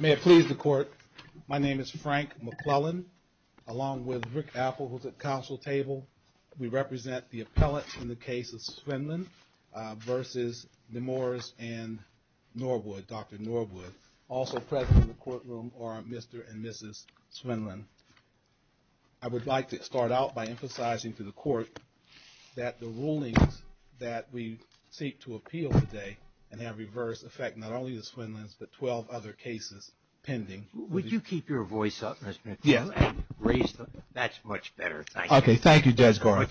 May it please the Court, my name is Frank McClellan, along with Rick Appel who is at the Council table. We represent the appellants in the case of Svindland v. Nemours and Norwood, Dr. Norwood. Also present in the courtroom are Mr. and Mrs. Svindland. I would like to start out by emphasizing to the Court that the rulings that we seek to appeal today and reverse affect not only the Svindlands but 12 other cases pending. Would you keep your voice up, Mr. McClellan? That's much better. Okay, thank you, Judge Gorham.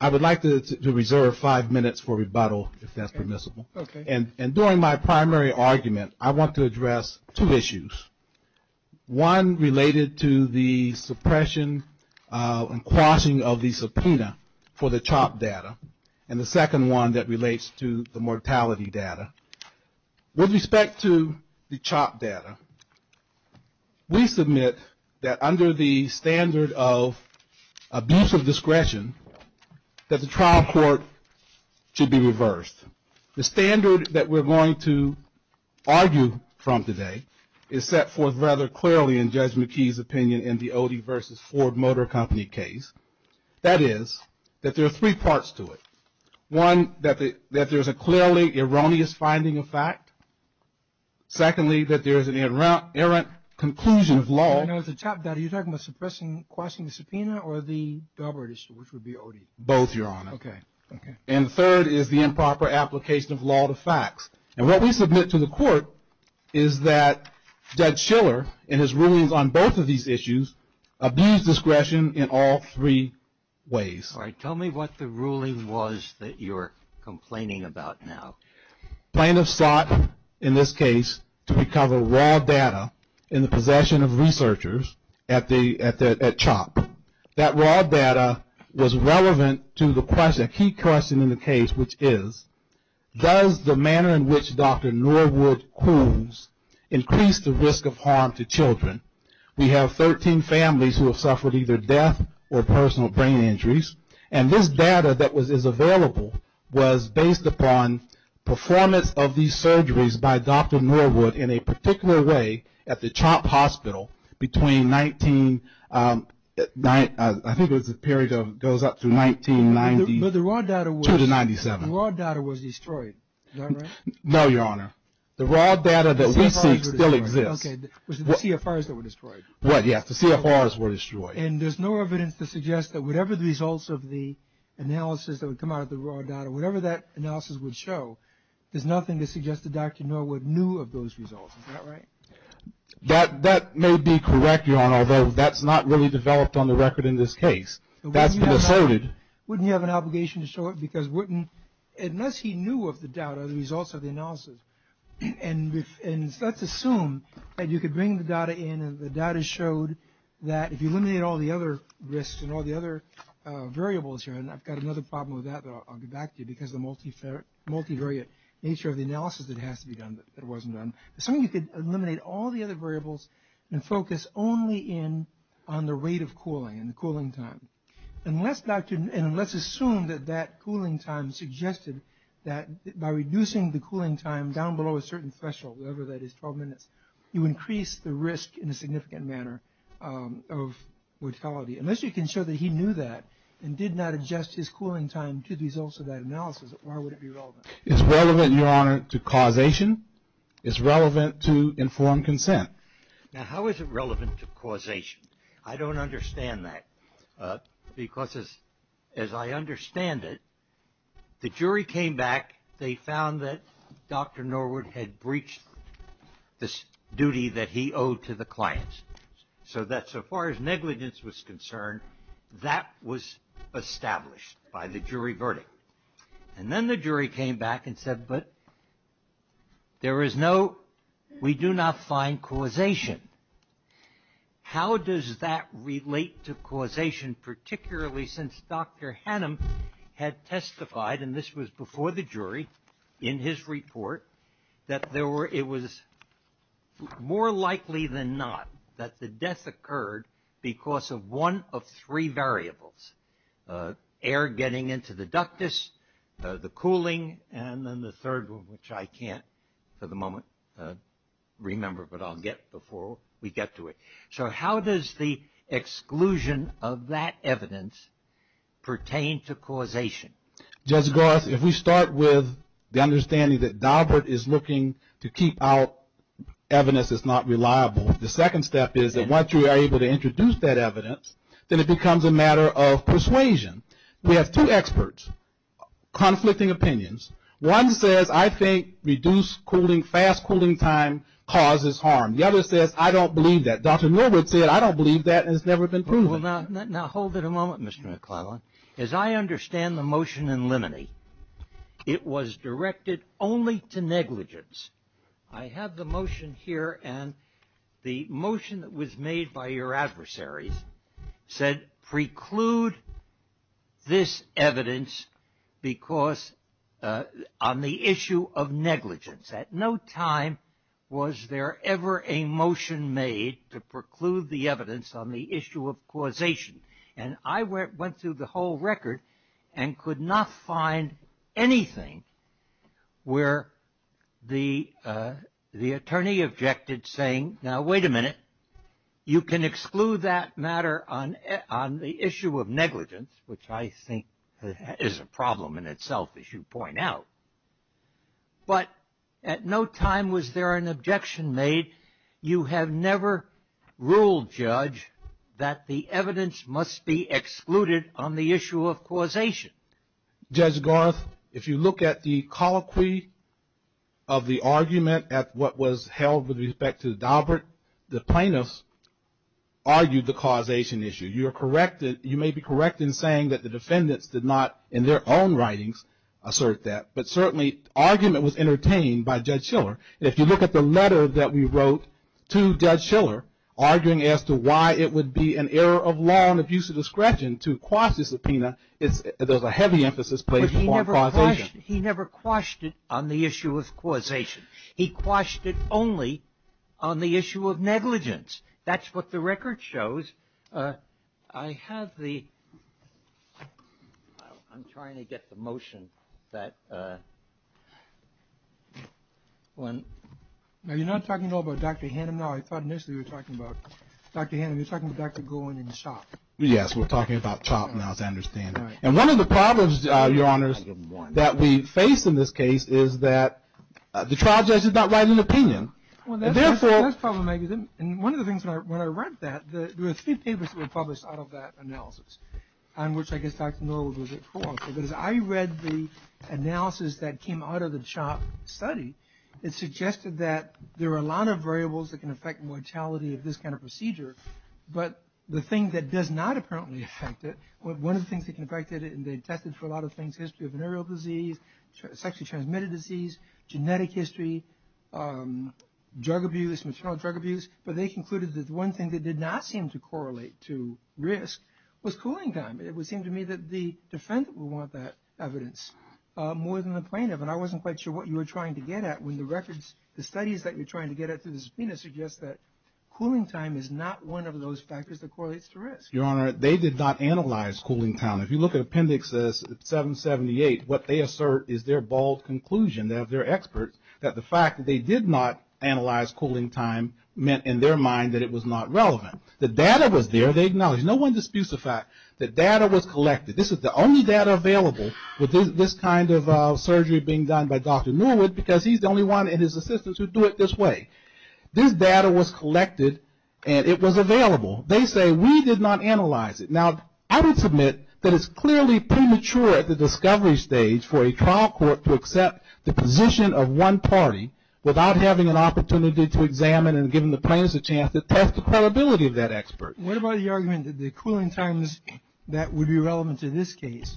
I would like to reserve five minutes for rebuttal, if that's permissible. Okay. And during my primary argument, I want to address two issues. One related to the suppression and the CHOP data, and the second one that relates to the mortality data. With respect to the CHOP data, we submit that under the standard of abuse of discretion that the trial court should be reversed. The standard that we're going to argue from today is set forth rather There's three parts to it. One, that there's a clearly erroneous finding of fact. Secondly, that there's an errant conclusion of law. Now, with the CHOP data, are you talking about suppressing the question of subpoena or the deliberate issue, which would be OD? Both, Your Honor. Okay, okay. And third is the improper application of law to facts. And what we submit to the Court is that Judge Schiller and his rulings on both of these issues abuse discretion in all three ways. All right. Tell me what the ruling was that you're complaining about now. Plaintiff sought, in this case, to recover raw data in the possession of researchers at CHOP. That raw data was relevant to the question, a key question in the case, which is, does the manner in which Dr. Norwood coons increased the risk of harm to children? We have 13 families who have suffered either death or personal brain injuries, and this data that is available was based upon performance of these surgeries by Dr. Norwood in a particular way at the CHOP hospital between I think it was the period that goes up to 1992 to 1997. But the raw data was destroyed, is that right? No, Your Honor. The raw data that we think still exists. Okay, it was the CFRs that were destroyed. Right, yes, the CFRs were destroyed. And there's no evidence to suggest that whatever the results of the analysis that would come out of the raw data, whatever that analysis would show, there's nothing to suggest that Dr. Norwood knew of those results. Is that right? That may be correct, Your Honor, although that's not really developed on the record in this case. That's been asserted. Wouldn't he have an obligation to show it? Because unless he knew of the data, the results of the analysis, and let's assume that you could bring the data in and the data showed that if you eliminated all the other risks and all the other variables here, and I've got another problem with that that I'll get back to you because of the multivariate nature of the analysis that has to be done but wasn't done. Assume you could eliminate all the other variables and focus only on the rate of cooling and the cooling time. And let's assume that that cooling time suggested that by reducing the cooling time down below a certain threshold, whatever that is, 12 minutes, you increase the risk in a significant manner of mortality. Unless you can show that he knew that and did not adjust his cooling time to the results of that analysis, why would it be relevant? It's relevant, Your Honor, to causation. It's relevant to informed consent. Now, how is it relevant to causation? I don't understand that because as I understand it, the jury came back. They found that Dr. Norwood had breached this duty that he owed to the clients, so that so far as negligence was concerned, that was established by the jury verdict. And then the jury came back and said, but there is no, we do not find causation. How does that relate to causation, particularly since Dr. Hannum had testified, and this was before the jury, in his report, that it was more likely than not that the death occurred because of one of three variables, air getting into the ductus, the cooling, and then the third one, which I can't at the moment remember, but I'll get before we get to it. So how does the exclusion of that evidence pertain to causation? Judge Garth, if we start with the understanding that Norwood is looking to keep out evidence that's not reliable, the second step is that once you are able to introduce that evidence, then it becomes a matter of persuasion. We have two experts conflicting opinions. One says, I think reduced cooling, fast cooling time causes harm. The other says, I don't believe that. Dr. Norwood said, I don't believe that, and it's never been proven. Now hold it a moment, Mr. McClellan. As I understand the motion in limine, it was directed only to negligence. I have the motion here, and the motion that was made by your adversaries said preclude this evidence because on the issue of negligence. At no time was there ever a motion made to preclude the evidence on the issue of causation, and I went through the whole record and could not find anything where the attorney objected saying, now wait a minute. You can exclude that matter on the issue of negligence, which I think is a problem in itself, as you point out. But at no time was there an objection made. You have never ruled, Judge, that the evidence must be excluded on the issue of causation. Judge Garth, if you look at the colloquy of the argument at what was held with respect to Daubert, the plaintiffs argued the causation issue. You may be correct in saying that the defendants did not in their own writings assert that, but certainly argument was entertained by Judge Schiller. If you look at the letter that we wrote to Judge Schiller arguing as to why it would be an error of law and abuse of discretion to quash the subpoena, there's a heavy emphasis placed on causation. He never quashed it on the issue of causation. He quashed it only on the issue of negligence. That's what the record shows. I have the ‑‑ I'm trying to get the motion. You're not talking at all about Dr. Hannum now. I thought initially you were talking about Dr. Hannum. You're talking about Dr. Golan and Chopp. Yes, we're talking about Chopp now, as I understand it. And one of the problems, Your Honors, that we face in this case is that the trial judge is not writing an opinion. That's part of the mechanism. And one of the things when I read that, there were a few papers that were published out of that analysis, on which I guess Dr. Newell was at fault. But as I read the analysis that came out of the Chopp study, it suggested that there are a lot of variables that can affect mortality of this kind of procedure, but the thing that does not apparently affect it, one of the things that can affect it, and they tested for a lot of things, sexually transmitted disease, genetic history, drug abuse, maternal drug abuse, but they concluded that one thing that did not seem to correlate to risk was cooling time. It would seem to me that the defense would want that evidence more than the plaintiff, and I wasn't quite sure what you were trying to get at when the studies that you're trying to get at through the subpoena suggest that cooling time is not one of those factors that correlates to risk. Your Honor, they did not analyze cooling time. If you look at Appendix 778, what they assert is their bold conclusion, they're experts, that the fact that they did not analyze cooling time meant in their mind that it was not relevant. The data was there, they acknowledge. No one disputes the fact that data was collected. This is the only data available within this kind of surgery being done by Dr. Newell because he's the only one and his assistants who do it this way. This data was collected and it was available. They say we did not analyze it. Now, I would submit that it's clearly premature at the discovery stage for a trial court to accept the position of one party without having an opportunity to examine and give the plaintiffs a chance to test the credibility of that expert. What about your argument that the cooling times that would be relevant to this case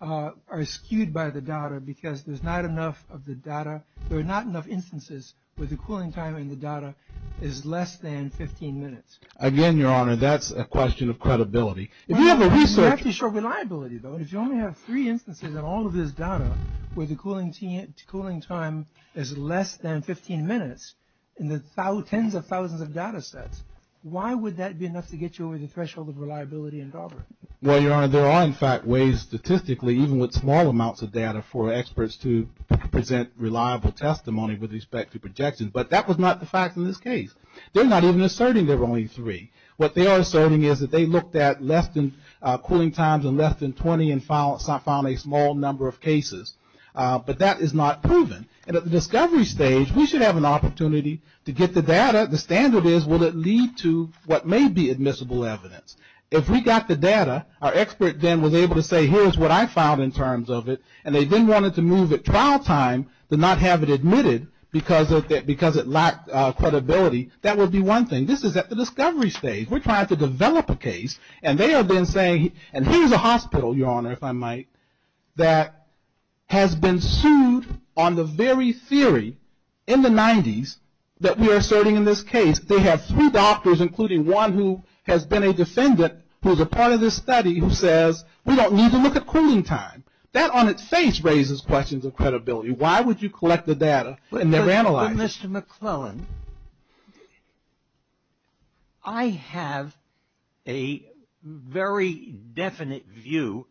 are skewed by the data because there's not enough of the data, there are not enough instances where the cooling time in the data is less than 15 minutes? Again, Your Honor, that's a question of credibility. You actually showed reliability, though, and if you only have three instances in all of this data where the cooling time is less than 15 minutes in the tens of thousands of data sets, why would that be enough to get you over the threshold of reliability in Dalbert? Well, Your Honor, there are, in fact, ways statistically, even with small amounts of data, for experts to present reliable testimony with respect to projections, but that was not the fact of this case. They're not even asserting there were only three. What they are asserting is that they looked at cooling times in less than 20 and found a small number of cases, but that is not proven. And at the discovery stage, we should have an opportunity to get the data. The standard is, will it lead to what may be admissible evidence? If we got the data, our expert then was able to say, here's what I found in terms of it, and they then wanted to move at trial time to not have it admitted because it lacked credibility, that would be one thing. This is at the discovery stage. We're trying to develop a case, and they have been saying, and here's a hospital, Your Honor, if I might, that has been sued on the very theory in the 90s that we are asserting in this case. They have three doctors, including one who has been a defendant, who is a part of this study, who says, we don't need to look at cooling time. That on its face raises questions of credibility. Why would you collect the data and never analyze it? Mr. McClellan, I have a very definite view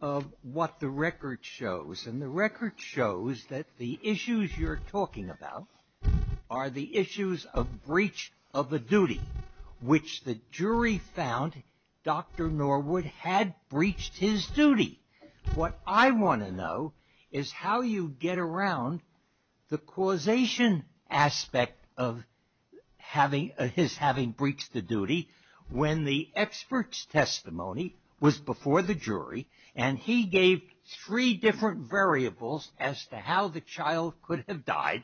of what the record shows, and the record shows that the issues you're talking about are the issues of breach of the duty, which the jury found Dr. Norwood had breached his duty. What I want to know is how you get around the causation aspect of his having breached the duty when the expert's testimony was before the jury, and he gave three different variables as to how the child could have died,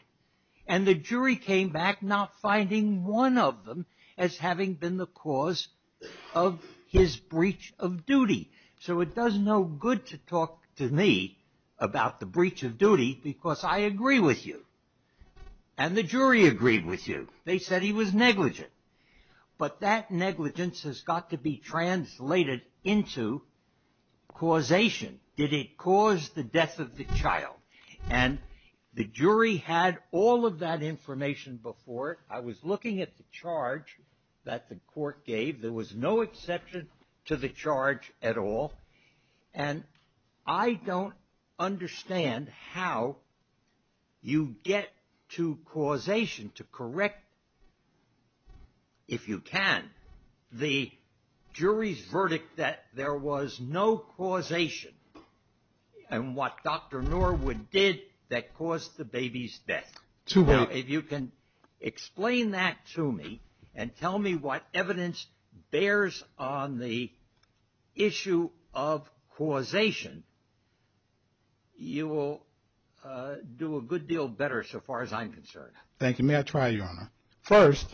and the jury came back not finding one of them as having been the cause of his breach of duty. So it does no good to talk to me about the breach of duty because I agree with you, and the jury agreed with you. They said he was negligent, but that negligence has got to be translated into causation. Did it cause the death of the child? And the jury had all of that information before. I was looking at the charge that the court gave. There was no exception to the charge at all, and I don't understand how you get to causation to correct, if you can, the jury's verdict that there was no causation in what Dr. Norwood did that caused the baby's death. If you can explain that to me and tell me what evidence bears on the issue of causation, you will do a good deal better so far as I'm concerned. Thank you. May I try, Your Honor? First,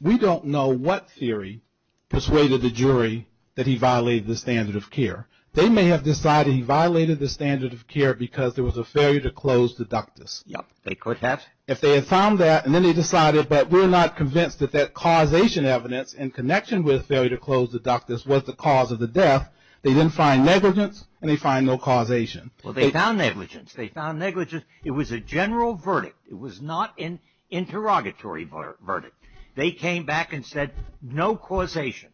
we don't know what theory persuaded the jury that he violated the standard of care. They may have decided he violated the standard of care because there was a failure to close the ductus. Yes, they could have. If they had found that and then they decided, but we're not convinced that that causation evidence in connection with failure to close the ductus was the cause of the death, they then find negligence and they find no causation. Well, they found negligence. They found negligence. It was a general verdict. It was not an interrogatory verdict. They came back and said no causation.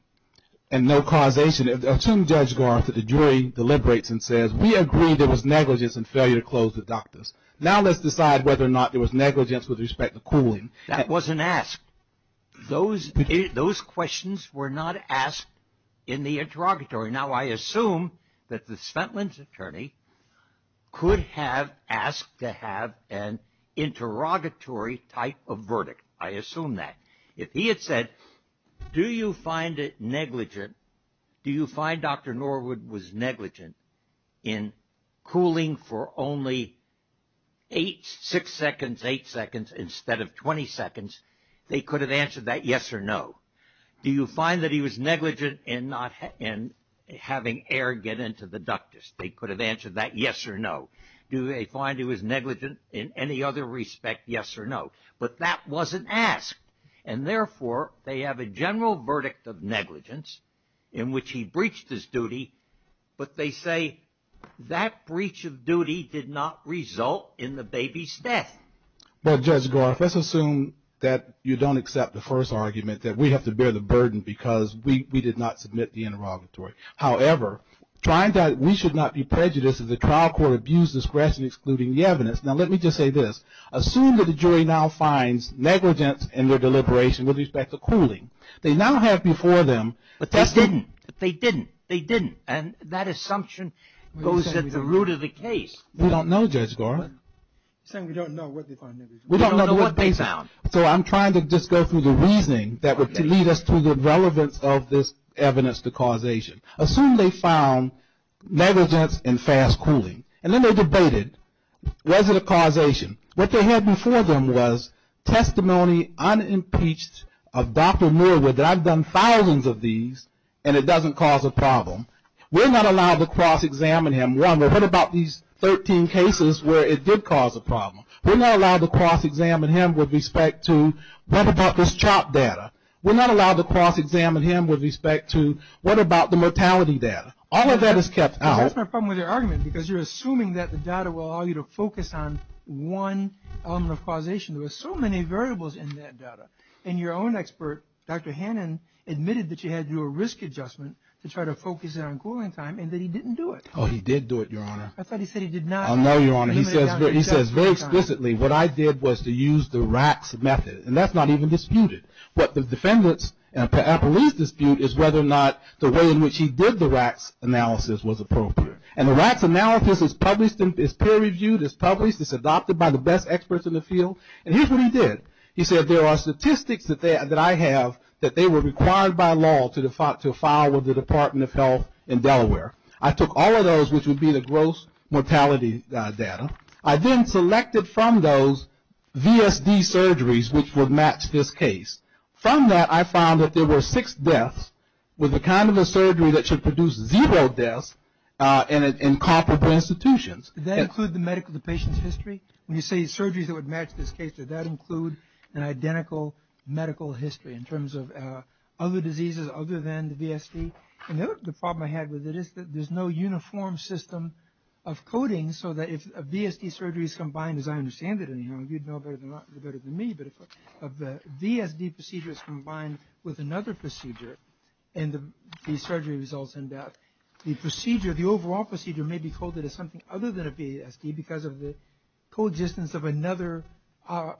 And no causation. Assume Judge Garza, the jury, deliberates and says, we agree there was negligence and failure to close the ductus. Now let's decide whether or not there was negligence with respect to cooling. That wasn't asked. Those questions were not asked in the interrogatory. Now I assume that the Svendland's attorney could have asked to have an interrogatory type of verdict. I assume that. If he had said, do you find it negligent, do you find Dr. Norwood was negligent in cooling for only eight, six seconds, eight seconds instead of 20 seconds, they could have answered that yes or no. Do you find that he was negligent in having air get into the ductus? They could have answered that yes or no. Do they find he was negligent in any other respect, yes or no? But that wasn't asked. And, therefore, they have a general verdict of negligence in which he breached his duty, but they say that breach of duty did not result in the baby's death. Well, Judge Garza, let's assume that you don't accept the first argument, that we have to bear the burden because we did not submit the interrogatory. However, we should not be prejudiced if the trial court views this question excluding the evidence. Now let me just say this. Assume that the jury now finds negligence in their deliberation with respect to cooling. They now have before them- But they didn't. They didn't. They didn't. And that assumption goes at the root of the case. We don't know, Judge Garza. We don't know what they found. We don't know what they found. So I'm trying to just go through the reasoning that would lead us to the relevance of this evidence to causation. Assume they found negligence in fast cooling. And then they debated, was it a causation? What they had before them was testimony unimpeached of Dr. Millward, that I've done thousands of these, and it doesn't cause a problem. We're not allowed to cross-examine him. Remember, what about these 13 cases where it did cause a problem? We're not allowed to cross-examine him with respect to what about this CHOP data. We're not allowed to cross-examine him with respect to what about the mortality data. All of that is kept out. That's my problem with your argument, because you're assuming that the data will allow you to focus on one on the causation. There are so many variables in that data. And your own expert, Dr. Hannon, admitted that you had to do a risk adjustment to try to focus it on cooling time, and that he didn't do it. Oh, he did do it, Your Honor. I thought he said he did not. I know, Your Honor. He says very explicitly, what I did was to use the RACS method. And that's not even disputed. What the defendants and police dispute is whether or not the way in which he did the RACS analysis was appropriate. And the RACS analysis is published. It's peer-reviewed. It's published. It's adopted by the best experts in the field. And here's what he did. He said there are statistics that I have that they were required by law to file with the Department of Health in Delaware. I took all of those, which would be the gross mortality data. I then selected from those VSD surgeries which would match this case. From that, I found that there were six deaths with the kind of a surgery that should produce zero deaths in comparable institutions. Does that include the medical patient's history? When you say surgeries that would match this case, does that include an identical medical history in terms of other diseases other than the VSD? The problem I had with it is that there's no uniform system of coding so that if a VSD surgery is combined, as I understand it, and you know better than me, but if the VSD procedure is combined with another procedure and the surgery results end up, the procedure, the overall procedure may be coded as something other than a VSD because of the coexistence of another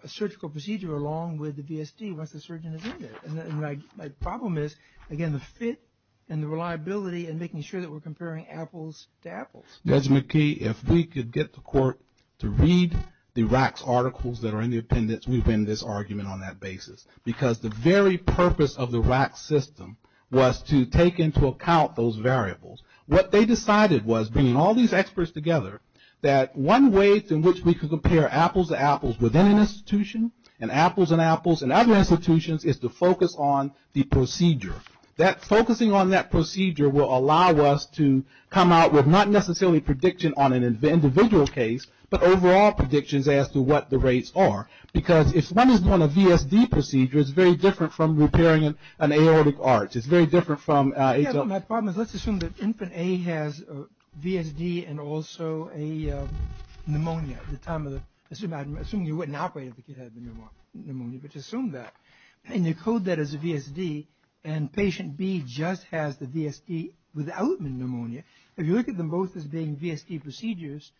surgical procedure along with the VSD once the surgeon is in there. My problem is, again, the fit and the reliability in making sure that we're comparing apples to apples. Judge McKee, if we could get the court to read the RACS articles that are in the appendix, we would end this argument on that basis because the very purpose of the RACS system was to take into account those variables. What they decided was, bringing all these experts together, that one way in which we could compare apples to apples within an institution and apples and apples in other institutions is to focus on the procedure. Focusing on that procedure will allow us to come out with not necessarily prediction on an individual case but overall predictions as to what the rates are because if one is on a VSD procedure, it's very different from repairing an aortic arch. It's very different from HLM. My problem is let's assume that infant A has VSD and also a pneumonia at the time. Assuming you wouldn't operate if the kid had pneumonia, but just assume that. And you code that as a VSD and patient B just has the VSD without the pneumonia. If you look at them both as being VSD procedures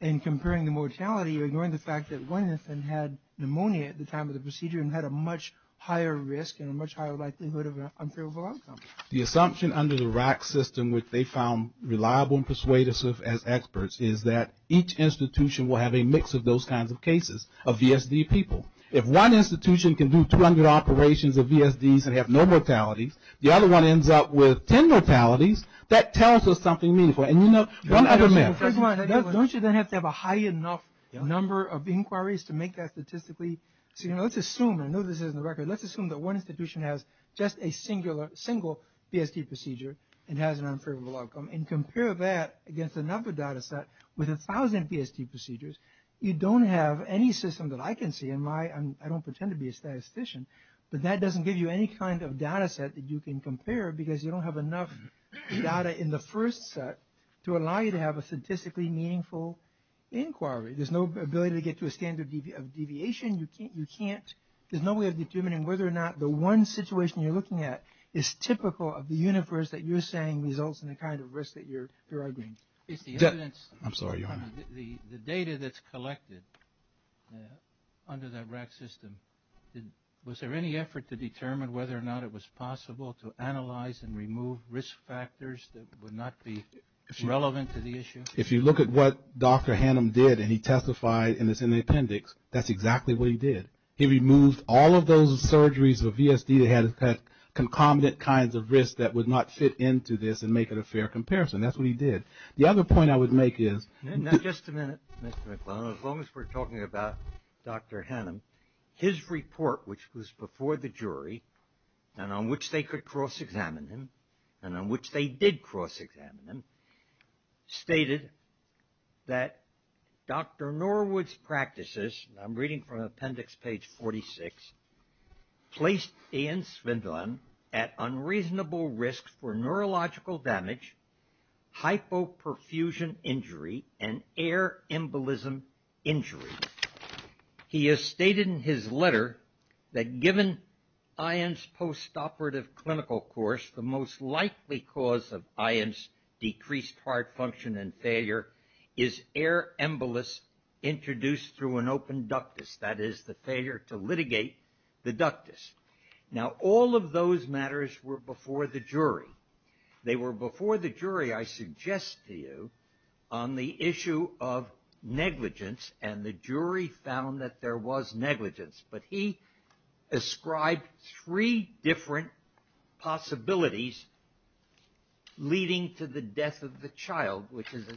and comparing the mortality, you're ignoring the fact that one infant had pneumonia at the time of the procedure and had a much higher risk and a much higher likelihood of an uncurable outcome. The assumption under the RACS system which they found reliable and persuasive as experts is that each institution will have a mix of those kinds of cases of VSD people. If one institution can do 200 operations of VSDs and have no mortality, the other one ends up with 10 mortalities, that tells us something meaningful. And you know, one other myth. Don't you then have to have a high enough number of inquiries to make that statistically? Let's assume, I know this is in the record, let's assume that one institution has just a single VSD procedure and has an uncurable outcome and compare that against another data set with 1,000 VSD procedures. You don't have any system that I can see, and I don't pretend to be a statistician, but that doesn't give you any kind of data set that you can compare because you don't have enough data in the first set to allow you to have a statistically meaningful inquiry. There's no ability to get to a standard deviation. There's no way of determining whether or not the one situation you're looking at is typical of the universe that you're saying results in the kind of risk that you're arguing. I'm sorry, Your Honor. The data that's collected under that RAC system, was there any effort to determine whether or not it was possible to analyze and remove risk factors that would not be relevant to the issue? If you look at what Dr. Hannum did, and he testified, and it's in the appendix, that's exactly what he did. He removed all of those surgeries with VSD that had concomitant kinds of risk that would not fit into this and make it a fair comparison. That's what he did. The other point I would make is as long as we're talking about Dr. Hannum, his report, which was before the jury and on which they could cross-examine him and on which they did cross-examine him, stated that Dr. Norwood's practices, and I'm reading from appendix page 46, placed Ian Svendron at unreasonable risk for neurological damage, hypoperfusion injury, and air embolism injury. He has stated in his letter that given Ian's post-operative clinical course, the most likely cause of Ian's decreased heart function and failure is air embolism introduced through an open ductus, that is the failure to litigate the ductus. Now all of those matters were before the jury. They were before the jury, I suggest to you, on the issue of negligence, and the jury found that there was negligence. But he ascribed three different possibilities leading to the death of the child, which is a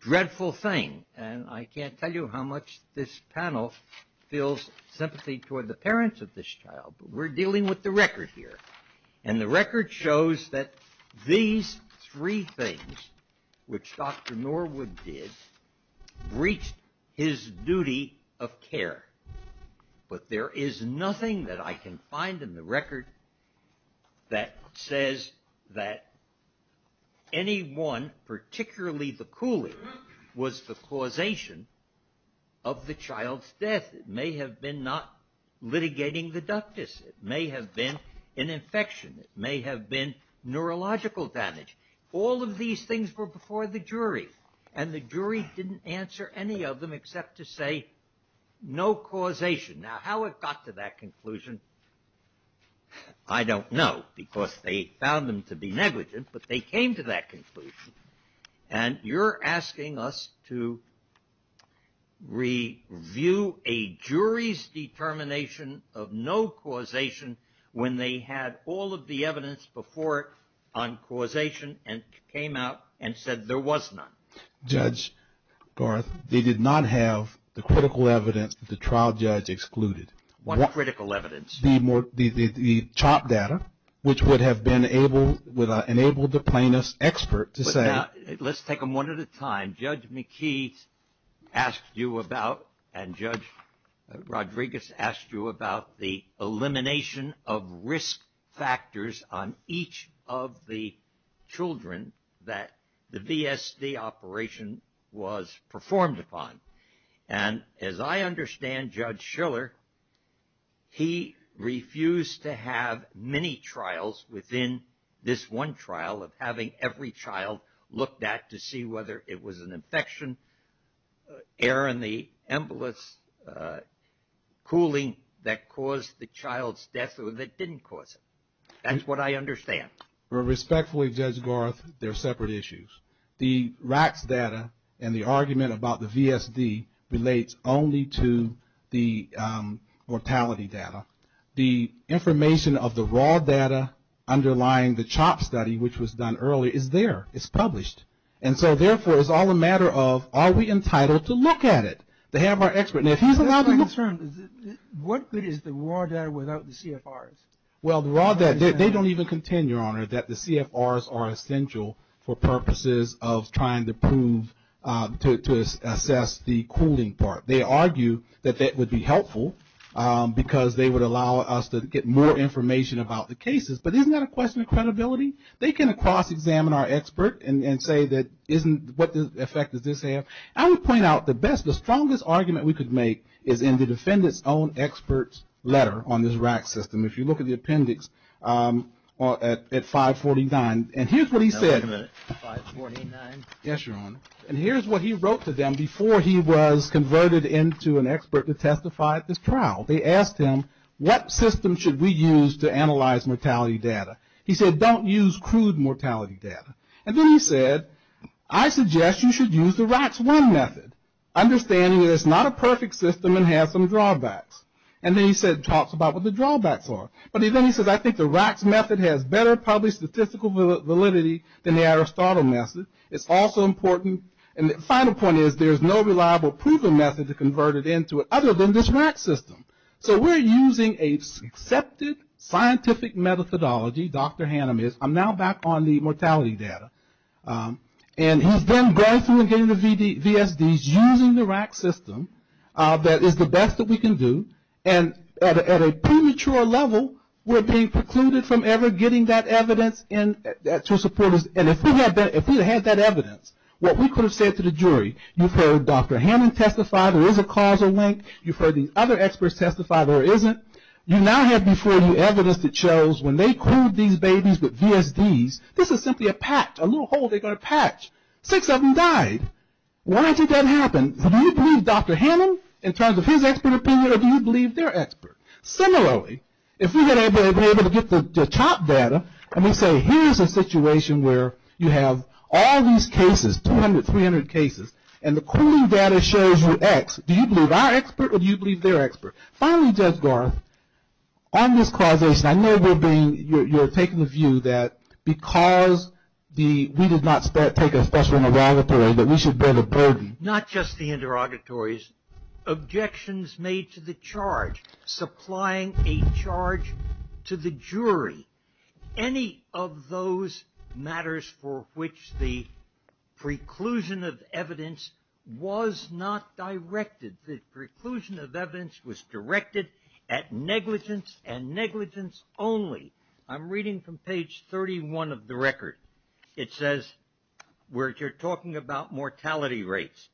dreadful thing, and I can't tell you how much this panel feels sympathy toward the parents of this child, but we're dealing with the record here. And the record shows that these three things, which Dr. Norwood did, breached his duty of care. But there is nothing that I can find in the record that says that anyone, particularly the cooler, was the causation of the child's death. It may have been not litigating the ductus. It may have been an infection. It may have been neurological damage. All of these things were before the jury, and the jury didn't answer any of them except to say no causation. Now how it got to that conclusion, I don't know, because they found them to be negligent, but they came to that conclusion. And you're asking us to review a jury's determination of no causation when they had all of the evidence before it on causation and came out and said there was none. Judge Garth, they did not have the critical evidence that the trial judge excluded. What critical evidence? The chart data, which would have enabled the plaintiff's expert to say. Let's take them one at a time. Judge McKee asked you about, and Judge Rodriguez asked you about, the elimination of risk factors on each of the children that the VSD operation was performed upon. And as I understand Judge Schiller, he refused to have many trials within this one trial of having every child looked at to see whether it was an infection, error in the ambulance cooling that caused the child's death or that didn't cause it. That's what I understand. Respectfully, Judge Garth, they're separate issues. The RACS data and the argument about the VSD relates only to the mortality data. The information of the raw data underlying the CHOP study, which was done earlier, is there. It's published. And so, therefore, it's all a matter of are we entitled to look at it, to have our expert. Now, he's allowed to look at it. What good is the raw data without the CFRs? Well, the raw data, they don't even contend, Your Honor, that the CFRs are essential for purposes of trying to prove, to assess the cooling part. They argue that that would be helpful because they would allow us to get more information about the cases. But isn't that a question of credibility? They can cross-examine our expert and say that isn't what the effect of this have. I would point out the best, the strongest argument we could make, is in the defendant's own expert's letter on this RACS system. If you look at the appendix at 549, and here's what he said. 549. Yes, Your Honor. And here's what he wrote to them before he was converted into an expert to testify at this trial. They asked him, what system should we use to analyze mortality data? He said, don't use crude mortality data. And then he said, I suggest you should use the RACS 1 method, understanding that it's not a perfect system and has some drawbacks. And then he said, talks about what the drawbacks are. But then he said, I think the RACS method has better published statistical validity than the Aristotle method. It's also important, and the final point is, there's no reliable proven method to convert it into other than this RACS system. So we're using an accepted scientific methodology, Dr. Hannon is. I'm now back on the mortality data. And he's been going through and getting the VSDs using the RACS system. That is the best that we can do. And at a premature level, we're being precluded from ever getting that evidence to support us. And if we had that evidence, what we could have said to the jury, you've heard Dr. Hannon testify. There is a causal link. You've heard the other experts testify. There isn't. You now have before you evidence that shows when they cooled these babies with VSDs, this is simply a patch, a little hole they got a patch. Six of them died. Why did that happen? Do you believe Dr. Hannon in terms of his expert opinion, or do you believe their expert? Similarly, if we would have been able to get the top data, and we say here's a situation where you have all these cases, 200, 300 cases, and the cooling data shows you X, do you believe our expert or do you believe their expert? Finally, Judge Garth, on this causation, I know you're taking the view that because we did not take a special interrogatory, that we should bear the burden. Not just the interrogatories. Objections made to the charge, supplying a charge to the jury, any of those matters for which the preclusion of evidence was not directed, the preclusion of evidence was directed at negligence and negligence only. I'm reading from page 31 of the record. It says we're talking about mortality rates.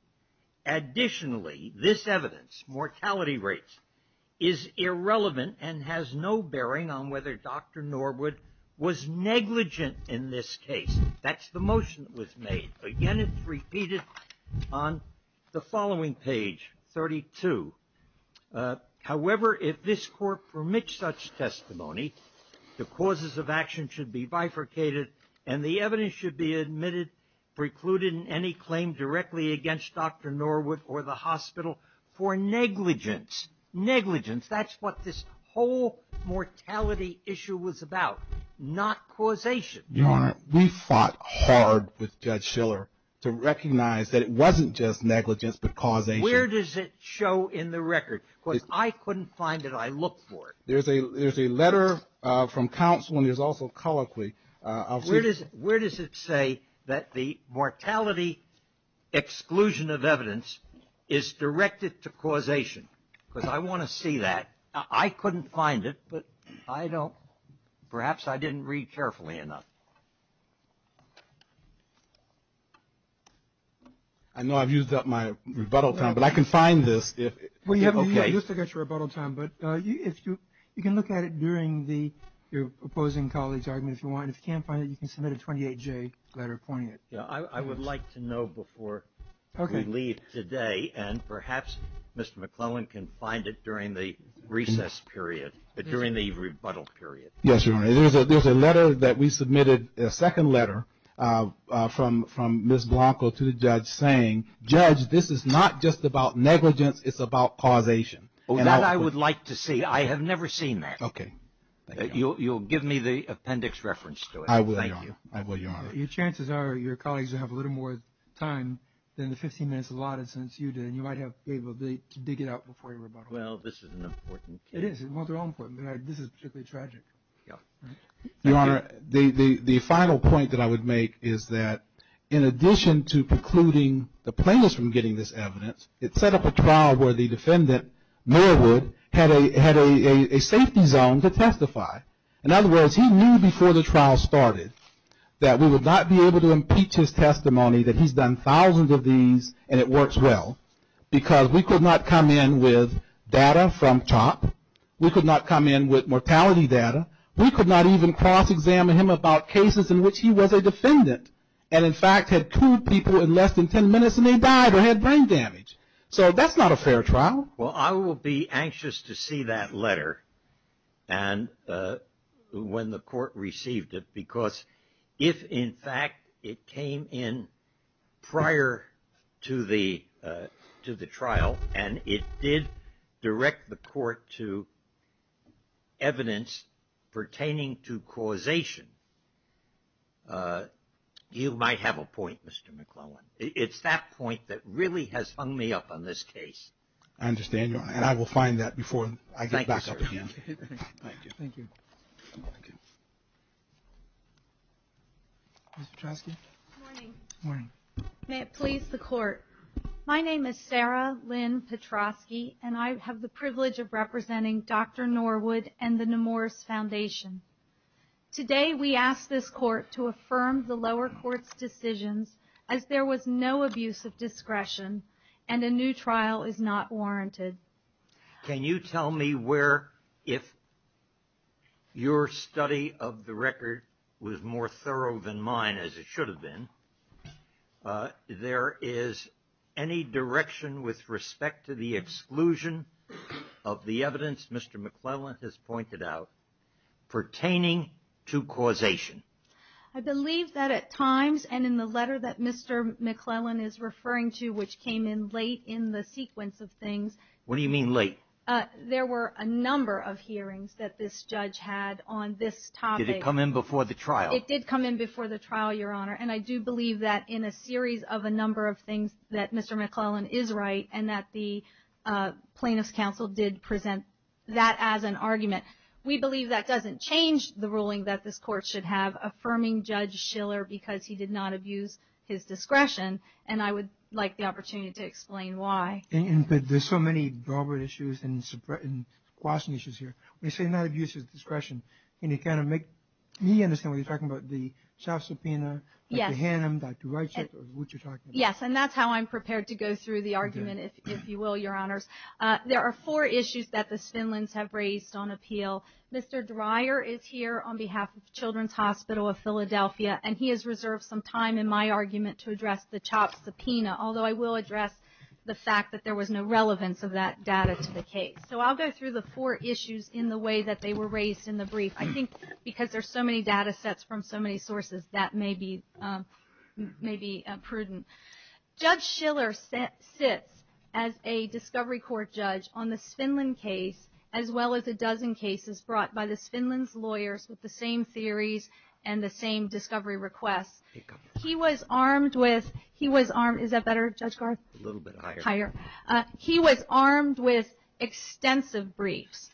Additionally, this evidence, mortality rates, is irrelevant and has no bearing on whether Dr. Norwood was negligent in this case. That's the motion that was made. Again, it's repeated on the following page, 32. However, if this court permits such testimony, the causes of action should be bifurcated, and the evidence should be admitted, precluded in any claim directly against Dr. Norwood or the hospital for negligence. Negligence, that's what this whole mortality issue was about, not causation. Your Honor, we fought hard with Judge Shiller to recognize that it wasn't just negligence but causation. Where does it show in the record? Because I couldn't find it. I looked for it. There's a letter from counsel, and there's also colloquy. Where does it say that the mortality exclusion of evidence is directed to causation? Because I want to see that. I couldn't find it, but perhaps I didn't read carefully enough. I know I've used up my rebuttal time, but I can find this. Well, you haven't used up your rebuttal time, but you can look at it during your opposing colleague's argument. If you can't find it, you can submit a 28-J letter pointing it. I would like to know before we leave today, and perhaps Mr. McClellan can find it during the recess period, during the rebuttal period. Yes, Your Honor. There's a letter that we submitted, a second letter from Ms. Blanco to the judge saying, Judge, this is not just about negligence, it's about causation. That I would like to see. I have never seen that. Okay. You'll give me the appendix reference to it. I will, Your Honor. I will, Your Honor. Your chances are your colleagues will have a little more time than the 15 minutes allotted since you did, and you might have to be able to dig it out before your rebuttal. Well, this is an important case. It is. Well, they're all important, but this is particularly tragic. Your Honor, the final point that I would make is that in addition to precluding the plaintiffs from getting this evidence, it set up a trial where the defendant, Mayerwood, had a safety zone to testify. In other words, he knew before the trial started that we would not be able to impeach his testimony, that he's done thousands of these and it works well, because we could not come in with data from CHOP. We could not come in with mortality data. We could not even cross-examine him about cases in which he was a defendant and, in fact, had two people in less than 10 minutes and they died or had brain damage. So that's not a fair trial. Well, I will be anxious to see that letter when the court received it, because if, in fact, it came in prior to the trial and it did direct the court to evidence pertaining to causation, you might have a point, Mr. McClellan. It's that point that really has hung me up on this case. I understand, Your Honor, and I will find that before I get back up again. Thank you. Thank you. Ms. Petrosky? Good morning. Good morning. May it please the Court, my name is Sarah Lynn Petrosky, and I have the privilege of representing Dr. Norwood and the Nemours Foundation. Today we ask this Court to affirm the lower court's decisions as there was no abuse of discretion and a new trial is not warranted. Can you tell me where, if your study of the record was more thorough than mine, as it should have been, there is any direction with respect to the exclusion of the evidence Mr. McClellan has pointed out pertaining to causation? I believe that at times, and in the letter that Mr. McClellan is referring to, which came in late in the sequence of things. What do you mean late? There were a number of hearings that this judge had on this topic. Did it come in before the trial? It did come in before the trial, Your Honor, and I do believe that in a series of a number of things that Mr. McClellan is right We believe that doesn't change the ruling that this Court should have affirming Judge Schiller because he did not abuse his discretion, and I would like the opportunity to explain why. There's so many broader issues and question issues here. When you say not abuse of discretion, can you kind of make me understand what you're talking about? The self-subpoena, Dr. Hannum, Dr. Reichert, what you're talking about? Yes, and that's how I'm prepared to go through the argument, if you will, Your Honor. There are four issues that the Finlands have raised on appeal. Mr. Dreyer is here on behalf of Children's Hospital of Philadelphia, and he has reserved some time in my argument to address the child subpoena, although I will address the fact that there was no relevance of that data to the case. So I'll go through the four issues in the way that they were raised in the brief. I think because there's so many data sets from so many sources, that may be prudent. Judge Schiller sits as a discovery court judge on the Finland case, as well as a dozen cases brought by the Finland's lawyers with the same theories and the same discovery requests. He was armed with – is that better, Judge Garza? A little bit higher. Higher. He was armed with extensive briefs,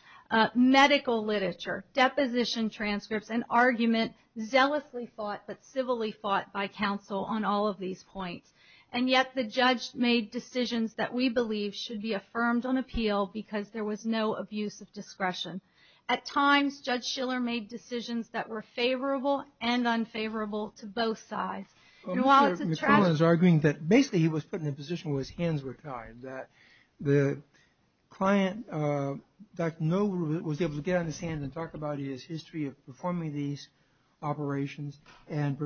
medical literature, deposition transcripts, an argument zealously fought but civilly fought by counsel on all of these points. And yet the judge made decisions that we believe should be affirmed on appeal because there was no abuse of discretion. At times, Judge Schiller made decisions that were favorable and unfavorable to both sides. Mr. Dreyer is arguing that basically he was put in a position where his hands were tied, that the client, Dr. Nohru, was able to get on his hands and talk about his history of performing these operations. And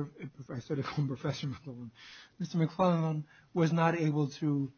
I said it from Professor McClellan. Mr. McClellan was not able to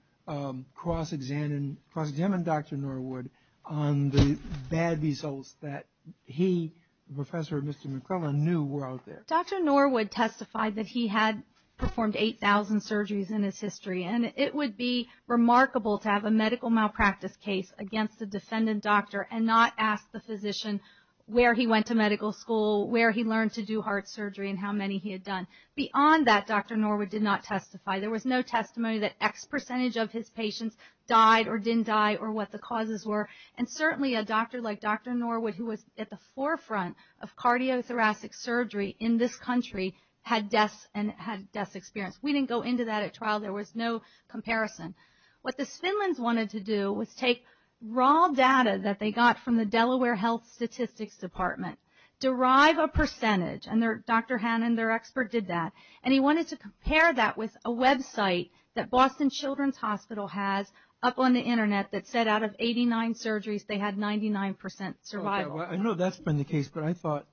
cross-examine Dr. Nohru on the bad results that he, the professor, and Mr. McClellan knew were out there. Dr. Nohru testified that he had performed 8,000 surgeries in his history, and it would be remarkable to have a medical malpractice case against the descendant doctor and not ask the physician where he went to medical school, where he learned to do heart surgery, and how many he had done. Beyond that, Dr. Nohru did not testify. There was no testimony that X percentage of his patients died or didn't die or what the causes were. And certainly a doctor like Dr. Nohru, who was at the forefront of cardiothoracic surgery in this country, had death and had death experience. We didn't go into that at trial. There was no comparison. What the Simlins wanted to do was take raw data that they got from the Delaware Health Statistics Department, derive a percentage, and Dr. Hannan, their expert, did that. And he wanted to compare that with a website that Boston Children's Hospital has up on the Internet that said out of 89 surgeries, they had 99% survival. I know that's been the case, but I thought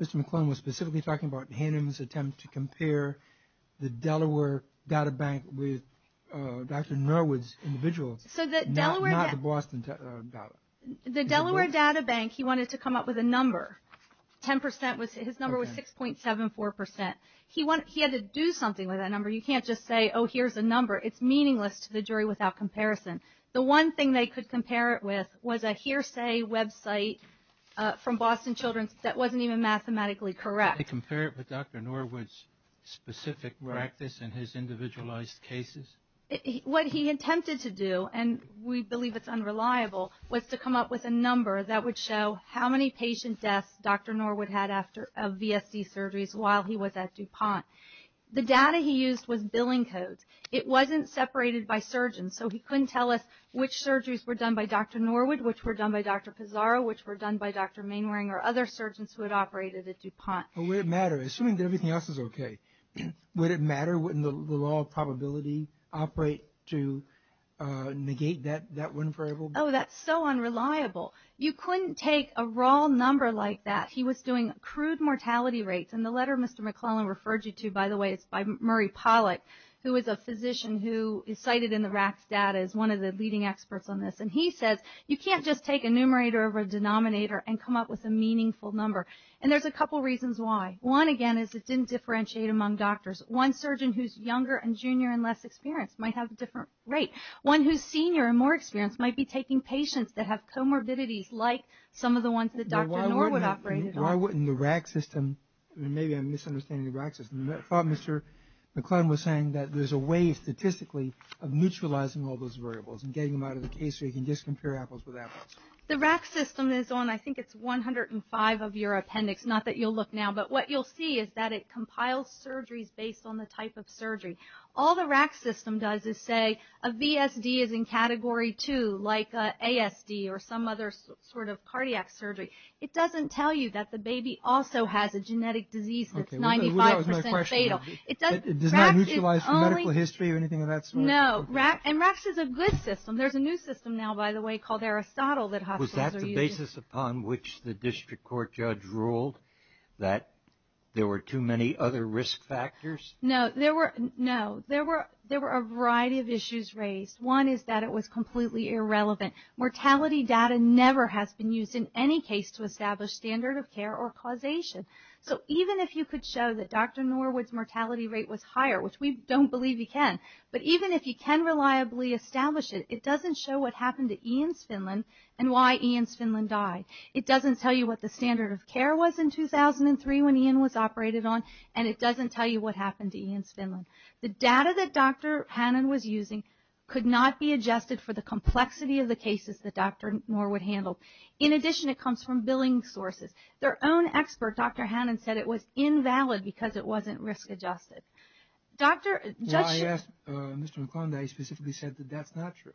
Mr. McClellan was specifically talking about Hannan's attempt to compare the Delaware databank with Dr. Norwood's individual, not the Boston databank. The Delaware databank, he wanted to come up with a number. His number was 6.74%. He had to do something with that number. You can't just say, oh, here's a number. It's meaningless to the jury without comparison. The one thing they could compare it with was a hearsay website from Boston Children's that wasn't even mathematically correct. Did they compare it with Dr. Norwood's specific practice and his individualized cases? What he attempted to do, and we believe it's unreliable, was to come up with a number that would show how many patient deaths Dr. Norwood had of VSD surgeries while he was at DuPont. The data he used was billing codes. It wasn't separated by surgeons, so he couldn't tell us which surgeries were done by Dr. Norwood, which were done by Dr. Pizarro, which were done by Dr. Mainwaring or other surgeons who had operated at DuPont. But would it matter? Assuming everything else was okay, would it matter when the law of probability operate to negate that one variable? Oh, that's so unreliable. You couldn't take a raw number like that. He was doing crude mortality rates, and the letter Mr. McClellan referred you to, by the way, is by Murray Pollack, who is a physician who is cited in the RAC's data as one of the leading experts on this. And he said you can't just take a numerator over a denominator and come up with a meaningful number. And there's a couple reasons why. One, again, is it didn't differentiate among doctors. One surgeon who's younger and junior and less experienced might have a different rate. One who's senior and more experienced might be taking patients that have comorbidities like some of the ones that Dr. Norwood operated on. Norwood and the RAC system, maybe I'm misunderstanding the RAC system. Mr. McClellan was saying that there's a way statistically of neutralizing all those variables and getting them out of the case so you can just compare apples to apples. The RAC system is on I think it's 105 of your appendix, not that you'll look now. But what you'll see is that it compiles surgeries based on the type of surgery. All the RAC system does is say a VSD is in Category 2, like ASD or some other sort of cardiac surgery. It doesn't tell you that the baby also has a genetic disease that's 95% fatal. It doesn't neutralize the medical history or anything of that sort? No. And RAC is a good system. There's a new system now, by the way, called Aristotle that hospitals are using. Was that the basis upon which the district court judge ruled that there were too many other risk factors? No. There were a variety of issues raised. One is that it was completely irrelevant. Mortality data never has been used in any case to establish standard of care or causation. So even if you could show that Dr. Norwood's mortality rate was higher, which we don't believe you can, but even if you can reliably establish it, it doesn't show what happened to Ian Svindlund and why Ian Svindlund died. It doesn't tell you what the standard of care was in 2003 when Ian was operated on, and it doesn't tell you what happened to Ian Svindlund. The data that Dr. Hannan was using could not be adjusted for the complexity of the cases that Dr. Norwood handled. In addition, it comes from billing sources. Their own expert, Dr. Hannan, said it was invalid because it wasn't risk adjusted. Well, I asked Mr. McClendon. He specifically said that that's not true.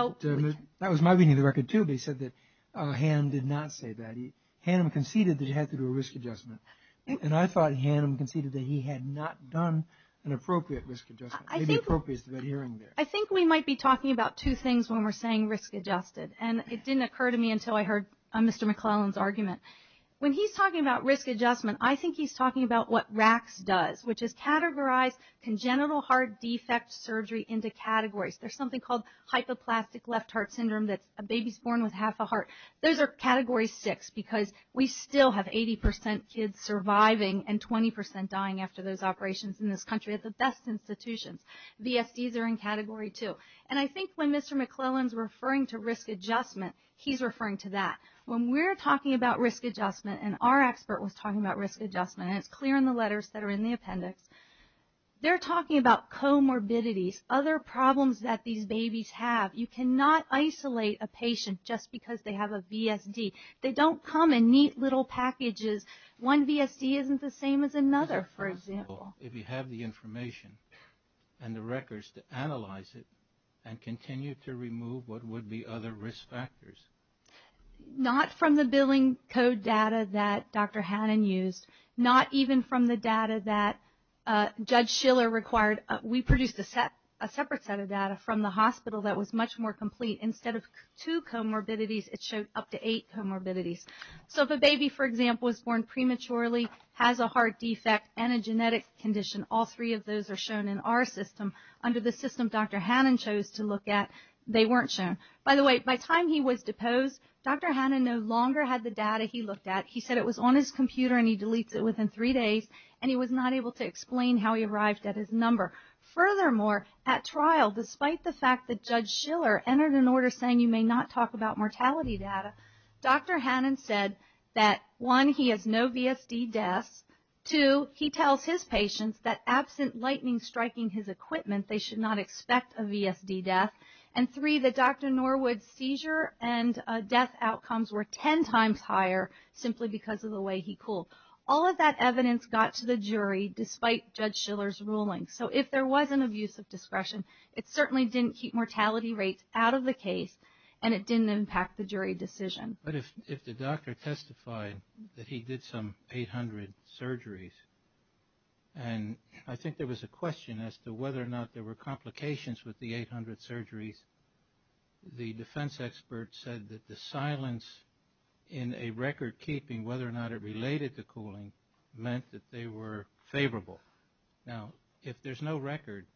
That was my reading of the record, too, but he said that Hannan did not say that. Hannan conceded that it had to do with risk adjustment, and I thought Hannan conceded that he had not done an appropriate risk adjustment. I think we might be talking about two things when we're saying risk adjusted, and it didn't occur to me until I heard Mr. McClelland's argument. When he's talking about risk adjustment, I think he's talking about what RACS does, which is Categorized Congenital Heart Defect Surgery into Categories. There's something called hypoplastic left heart syndrome that's a baby born with half a heart. Those are Category 6 because we still have 80% kids surviving and 20% dying after those operations in this country. It's the best institution. VFDs are in Category 2. And I think when Mr. McClelland's referring to risk adjustment, he's referring to that. When we're talking about risk adjustment, and our expert was talking about risk adjustment, and it's clear in the letters that are in the appendix, they're talking about comorbidities, other problems that these babies have. You cannot isolate a patient just because they have a VFD. They don't come in neat little packages. One VFD isn't the same as another, for example. If you have the information and the records to analyze it and continue to remove what would be other risk factors. Not from the billing code data that Dr. Hannon used. Not even from the data that Judge Schiller required. We produced a separate set of data from the hospital that was much more complete. Instead of two comorbidities, it showed up to eight comorbidities. So if a baby, for example, is born prematurely, has a heart defect, and a genetic condition, all three of those are shown in our system. Under the system Dr. Hannon chose to look at, they weren't shown. By the way, by the time he was deposed, Dr. Hannon no longer had the data he looked at. He said it was on his computer and he deleted it within three days, and he was not able to explain how he arrived at his number. Furthermore, at trial, despite the fact that Judge Schiller entered an order saying you may not talk about mortality data, Dr. Hannon said that, one, he has no VFD death. Two, he tells his patients that absent lightning striking his equipment, they should not expect a VFD death. And three, that Dr. Norwood's seizure and death outcomes were ten times higher simply because of the way he cooled. All of that evidence got to the jury despite Judge Schiller's ruling. So if there was an abuse of discretion, it certainly didn't keep mortality rates out of the case and it didn't impact the jury decision. But if the doctor testified that he did some 800 surgeries, and I think there was a question as to whether or not there were complications with the 800 surgeries, the defense expert said that the silence in a record-keeping, whether or not it related to cooling, meant that they were favorable. Now, if there's no record,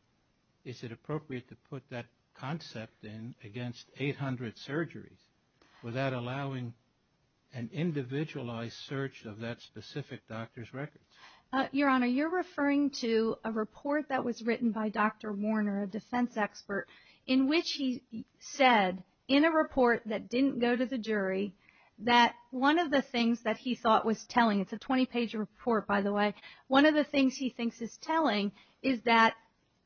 is it appropriate to put that concept in against 800 surgeries without allowing an individualized search of that specific doctor's records? Your Honor, you're referring to a report that was written by Dr. Warner, a defense expert, in which he said, in a report that didn't go to the jury, that one of the things that he thought was telling, it's a 20-page report, by the way, one of the things he thinks is telling is that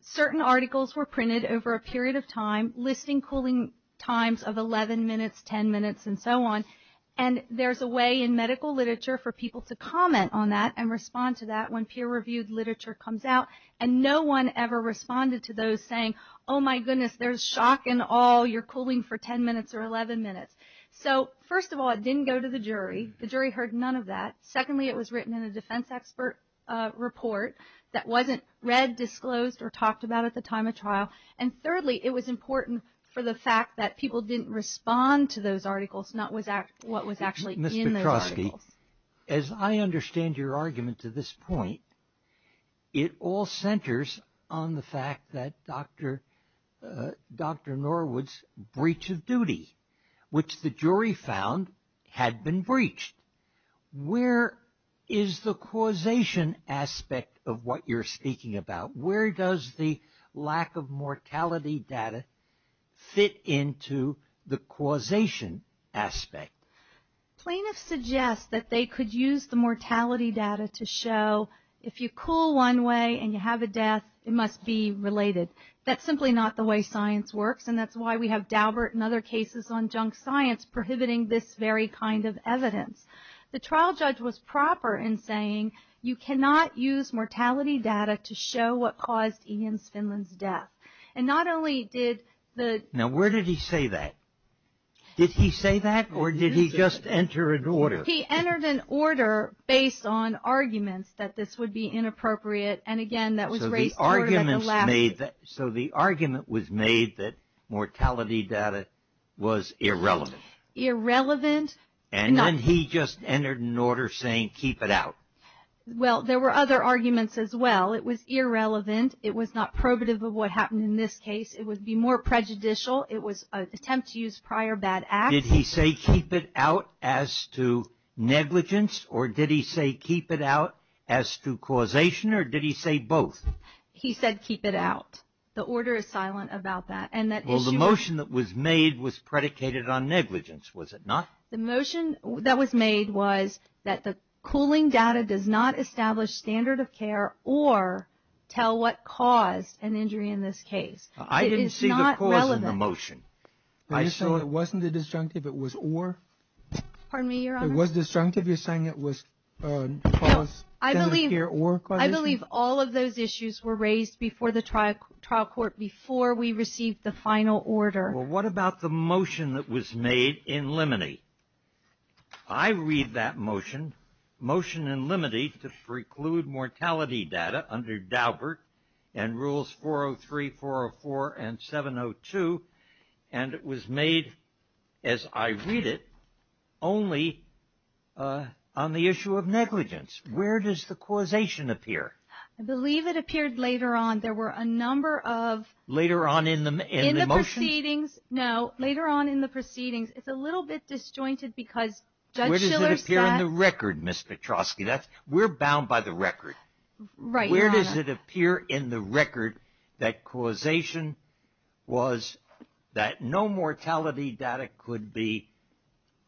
certain articles were printed over a period of time, listing cooling times of 11 minutes, 10 minutes, and so on, and there's a way in medical literature for people to comment on that and respond to that when peer-reviewed literature comes out, and no one ever responded to those saying, oh, my goodness, there's shock and awe, you're cooling for 10 minutes or 11 minutes. So, first of all, it didn't go to the jury. The jury heard none of that. Secondly, it was written in a defense expert report that wasn't read, disclosed, or talked about at the time of trial. And thirdly, it was important for the fact that people didn't respond to those articles, not what was actually in those articles. Ms. Petrosky, as I understand your argument to this point, it all centers on the fact that Dr. Norwood's breach of duty, which the jury found had been breached. Where is the causation aspect of what you're speaking about? Where does the lack of mortality data fit into the causation aspect? Plaintiffs suggest that they could use the mortality data to show, if you cool one way and you have a death, it must be related. That's simply not the way science works, and that's why we have Daubert and other cases on junk science prohibiting this very kind of evidence. The trial judge was proper in saying, you cannot use mortality data to show what caused Ian Finlan's death. And not only did the- Now, where did he say that? Did he say that, or did he just enter an order? He entered an order based on arguments that this would be inappropriate. And again, that was- So the argument was made that mortality data was irrelevant. Irrelevant. And then he just entered an order saying, keep it out. Well, there were other arguments as well. It was irrelevant. It was not probative of what happened in this case. It would be more prejudicial. It was an attempt to use prior bad acts. Did he say keep it out as to negligence, or did he say keep it out as to causation, or did he say both? He said keep it out. The order is silent about that. Well, the motion that was made was predicated on negligence, was it not? The motion that was made was that the cooling data does not establish standard of care or tell what caused an injury in this case. It is not relevant. I didn't see the cause of the motion. So it wasn't a disjunctive, it was or? Pardon me? It was disjunctive? You're saying it was caused standard of care or? I believe all of those issues were raised before the trial court, before we received the final order. Well, what about the motion that was made in limine? I read that motion, motion in limine, to preclude mortality data under Daubert and rules 403, 404, and 702, and it was made, as I read it, only on the issue of negligence. Where does the causation appear? I believe it appeared later on. There were a number of. Later on in the motion? No, later on in the proceedings. It's a little bit disjointed because Judge Shiller said. Where does it appear in the record, Ms. Petrosky? We're bound by the record. Right. Where does it appear in the record that causation was that no mortality data could be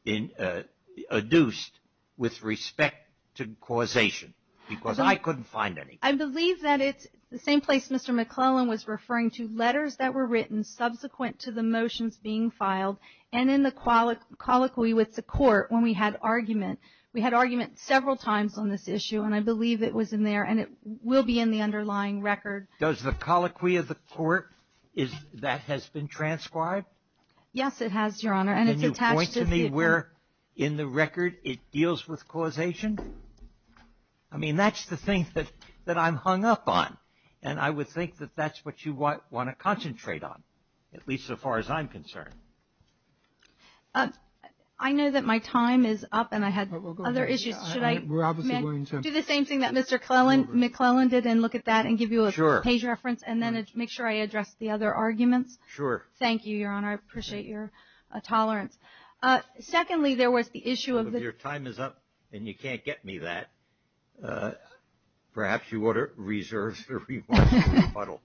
induced with respect to causation? Because I couldn't find any. I believe that it's the same place Mr. McClellan was referring to, letters that were written subsequent to the motions being filed and in the colloquy with the court when we had argument. We had argument several times on this issue, and I believe it was in there, and it will be in the underlying record. Does the colloquy of the court, that has been transcribed? Yes, it has, Your Honor. Can you point to me where in the record it deals with causation? I mean, that's the thing that I'm hung up on, and I would think that that's what you might want to concentrate on, at least so far as I'm concerned. I know that my time is up, and I have other issues. Should I do the same thing that Mr. McClellan did and look at that and give you a page reference and then make sure I address the other arguments? Sure. Thank you, Your Honor. I appreciate your tolerance. Secondly, there was the issue of the – Your time is up, and you can't get me that. Perhaps you ought to reserve your rebuttal.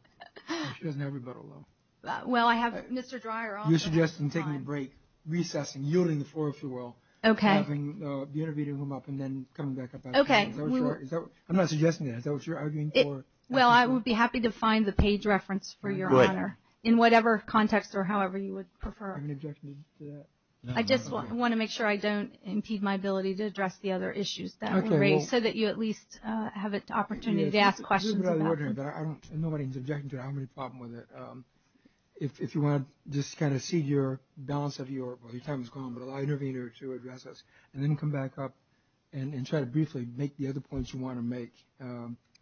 She doesn't have a rebuttal, though. Well, I have – Mr. Dreyer also has his time. You're suggesting taking a break, recessing, yielding the floor, if you will. Okay. Having the intervening room up and then coming back up afterwards. Okay. I'm not suggesting that. Is that what you're arguing for? Well, I would be happy to find the page reference for Your Honor in whatever context or however you would prefer. Are you objecting to that? I just want to make sure I don't impede my ability to address the other issues. That would be great so that you at least have an opportunity to ask questions. I'm not objecting to it. I don't have any problem with it. If you want to just kind of cede your balance of your time is gone, but allow the intervener to address us, and then come back up and try to briefly make the other points you want to make.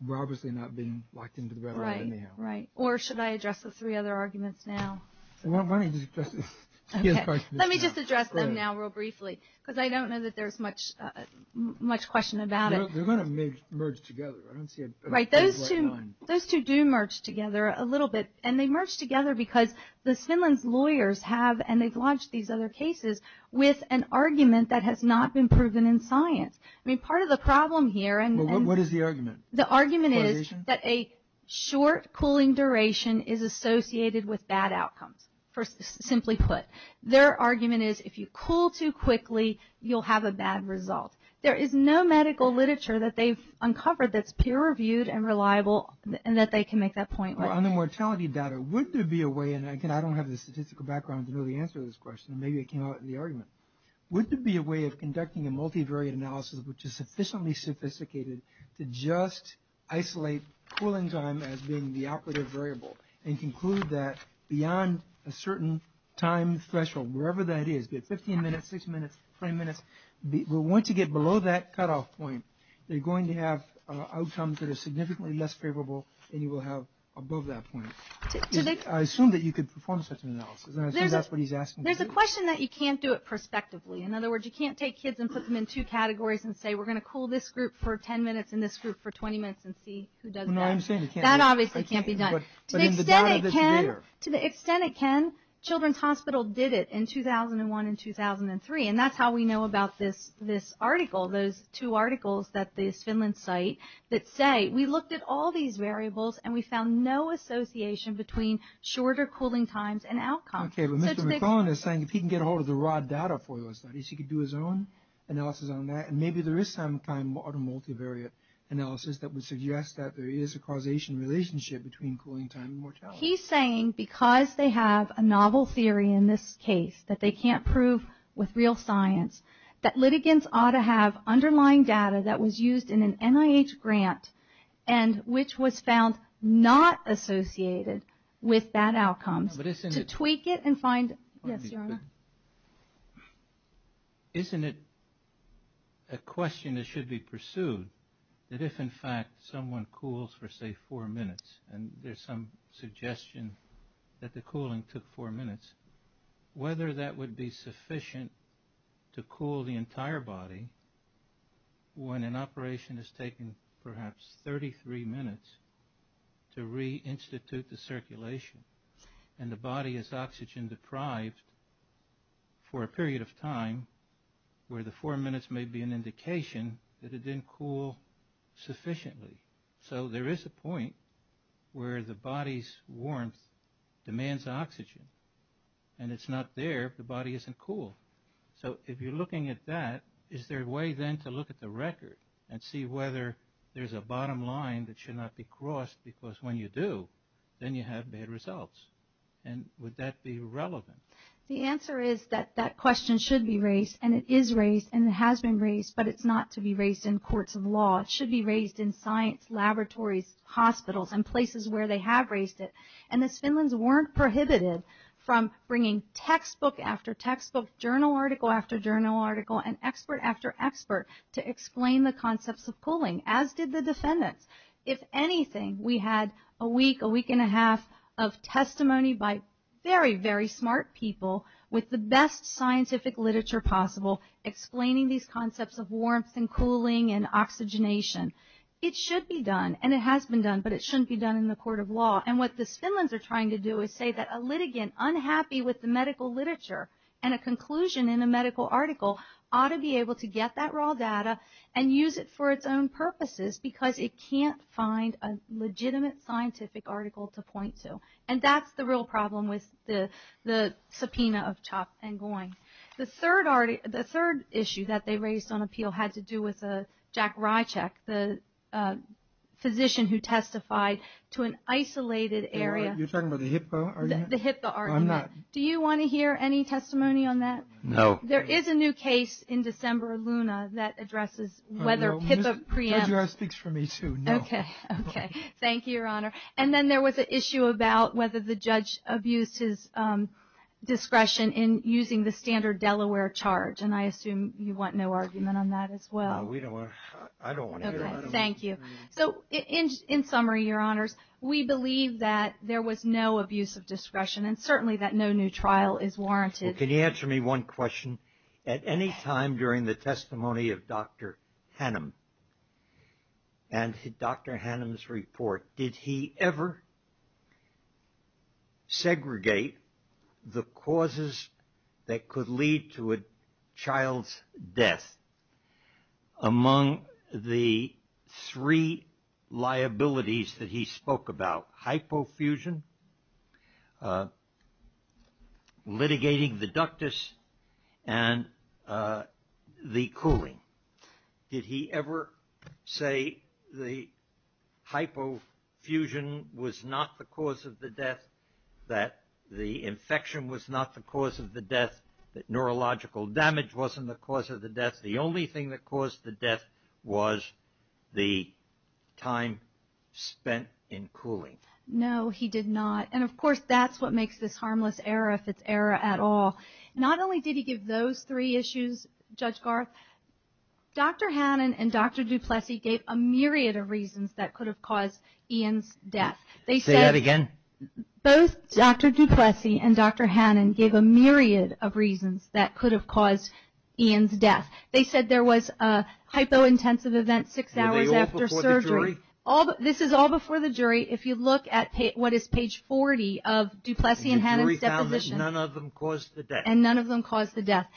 We're obviously not being locked into the red light anyhow. Right. Or should I address the three other arguments now? Why don't you just address them? Let me just address them now real briefly, because I don't know that there's much question about it. They're going to merge together. Right. Those two do merge together a little bit, and they merge together because the Simmons lawyers have, and they've launched these other cases, with an argument that has not been proven in science. I mean, part of the problem here and— What is the argument? The argument is that a short cooling duration is associated with bad outcomes, simply put. Their argument is if you cool too quickly, you'll have a bad result. There is no medical literature that they've uncovered that's peer-reviewed and reliable and that they can make that point. On the mortality data, would there be a way— and again, I don't have the statistical background to really answer this question, and maybe it came out in the argument. Would there be a way of conducting a multivariate analysis, which is sufficiently sophisticated, to just isolate cooling time as being the operative variable and conclude that beyond a certain time threshold, wherever that is, be it 15 minutes, 60 minutes, 20 minutes, once you get below that cutoff point, you're going to have outcomes that are significantly less favorable than you will have above that point. I assume that you could perform such analysis, and I say that's what he's asking. There's a question that you can't do it prospectively. In other words, you can't take kids and put them in two categories and say we're going to cool this group for 10 minutes and this group for 20 minutes and see who does better. No, I'm saying it can't be done. That obviously can't be done. But in the data that we have— To the extent it can, Children's Hospital did it in 2001 and 2003, and that's how we know about this article, those two articles at the Finland site, that say we looked at all these variables and we found no association between shorter cooling times and outcomes. Okay, but Mr. McClellan is saying if he can get a hold of the raw data for those studies, he could do his own analysis on that, and maybe there is some kind of multivariate analysis that would suggest that there is a causation relationship between cooling time and mortality. He's saying because they have a novel theory in this case that they can't prove with real science, that litigants ought to have underlying data that was used in an NIH grant and which was found not associated with that outcome to tweak it and find— Yes, Your Honor. Isn't it a question that should be pursued that if, in fact, someone cools for, say, four minutes, and there's some suggestion that the cooling took four minutes, whether that would be sufficient to cool the entire body when an operation has taken perhaps 33 minutes to reinstitute the circulation and the body is oxygen-deprived for a period of time where the four minutes may be an indication that it didn't cool sufficiently. So there is a point where the body's warmth demands oxygen. And it's not there if the body isn't cooled. So if you're looking at that, is there a way then to look at the record and see whether there's a bottom line that should not be crossed because when you do, then you have bad results? And would that be relevant? The answer is that that question should be raised, and it is raised, and it has been raised, but it's not to be raised in courts of law. It should be raised in science laboratories, hospitals, and places where they have raised it. And the Finns weren't prohibited from bringing textbook after textbook, journal article after journal article, and expert after expert to explain the concepts of cooling, as did the defendants. If anything, we had a week, a week and a half, of testimony by very, very smart people with the best scientific literature possible explaining these concepts of warmth and cooling and oxygenation. It should be done, and it has been done, but it shouldn't be done in the court of law. And what the Finns are trying to do is say that a litigant unhappy with the medical literature and a conclusion in a medical article ought to be able to get that raw data and use it for its own purposes because it can't find a legitimate scientific article to point to. And that's the real problem with the subpoena of Chopp and Goyne. The third issue that they raised on appeal had to do with Jack Rycheck, the physician who testified to an isolated area. You're talking about the HIPAA argument? The HIPAA argument. I'm not. Do you want to hear any testimony on that? No. There is a new case in December, Luna, that addresses whether HIPAA preempts. The judge speaks for me, too. Okay. Okay. Thank you, Your Honor. And then there was an issue about whether the judge abuses discretion in using the standard Delaware charge, and I assume you want no argument on that as well. No, we don't want to. I don't want to hear it. Okay. Thank you. So in summary, Your Honors, we believe that there was no abuse of discretion and certainly that no new trial is warranted. Can you answer me one question? At any time during the testimony of Dr. Hannum and Dr. Hannum's report, did he ever segregate the causes that could lead to a child's death among the three liabilities that he spoke about, hypofusion, litigating the ductus, and the cooling? Did he ever say the hypofusion was not the cause of the death, that the infection was not the cause of the death, that neurological damage wasn't the cause of the death, the only thing that caused the death was the time spent in cooling? No, he did not. And, of course, that's what makes this harmless error if it's error at all. Not only did he give those three issues, Judge Garth, Dr. Hannum and Dr. DuPlessis gave a myriad of reasons that could have caused Ian's death. Say that again. Both Dr. DuPlessis and Dr. Hannum gave a myriad of reasons that could have caused Ian's death. They said there was a hypointensive event six hours after surgery. Were they all before the jury? This is all before the jury. If you look at what is page 40 of DuPlessis and Hannum's deposition. The jury found that none of them caused the death. And none of them caused the death.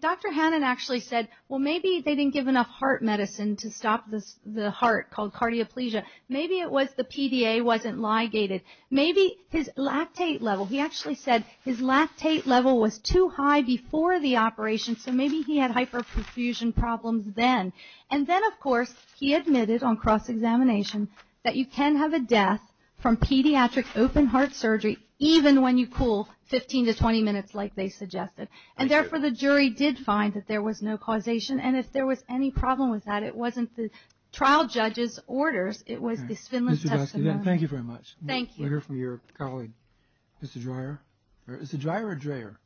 Dr. Hannum actually said, well, maybe they didn't give enough heart medicine to stop the heart, called cardioplegia. Maybe it was the PDA wasn't ligated. Maybe his lactate level, he actually said, his lactate level was too high before the operation, so maybe he had hyperfusion problems then. And then, of course, he admitted on cross-examination that you can have a death from pediatric open-heart surgery even when you cool 15 to 20 minutes like they suggested. And, therefore, the jury did find that there was no causation. And if there was any problem with that, it wasn't the trial judge's orders, it was the stimulus testimony. Thank you very much. Thank you. We're here for your colleague, Mr. Dreyer. Is it Dreyer or Dreyer?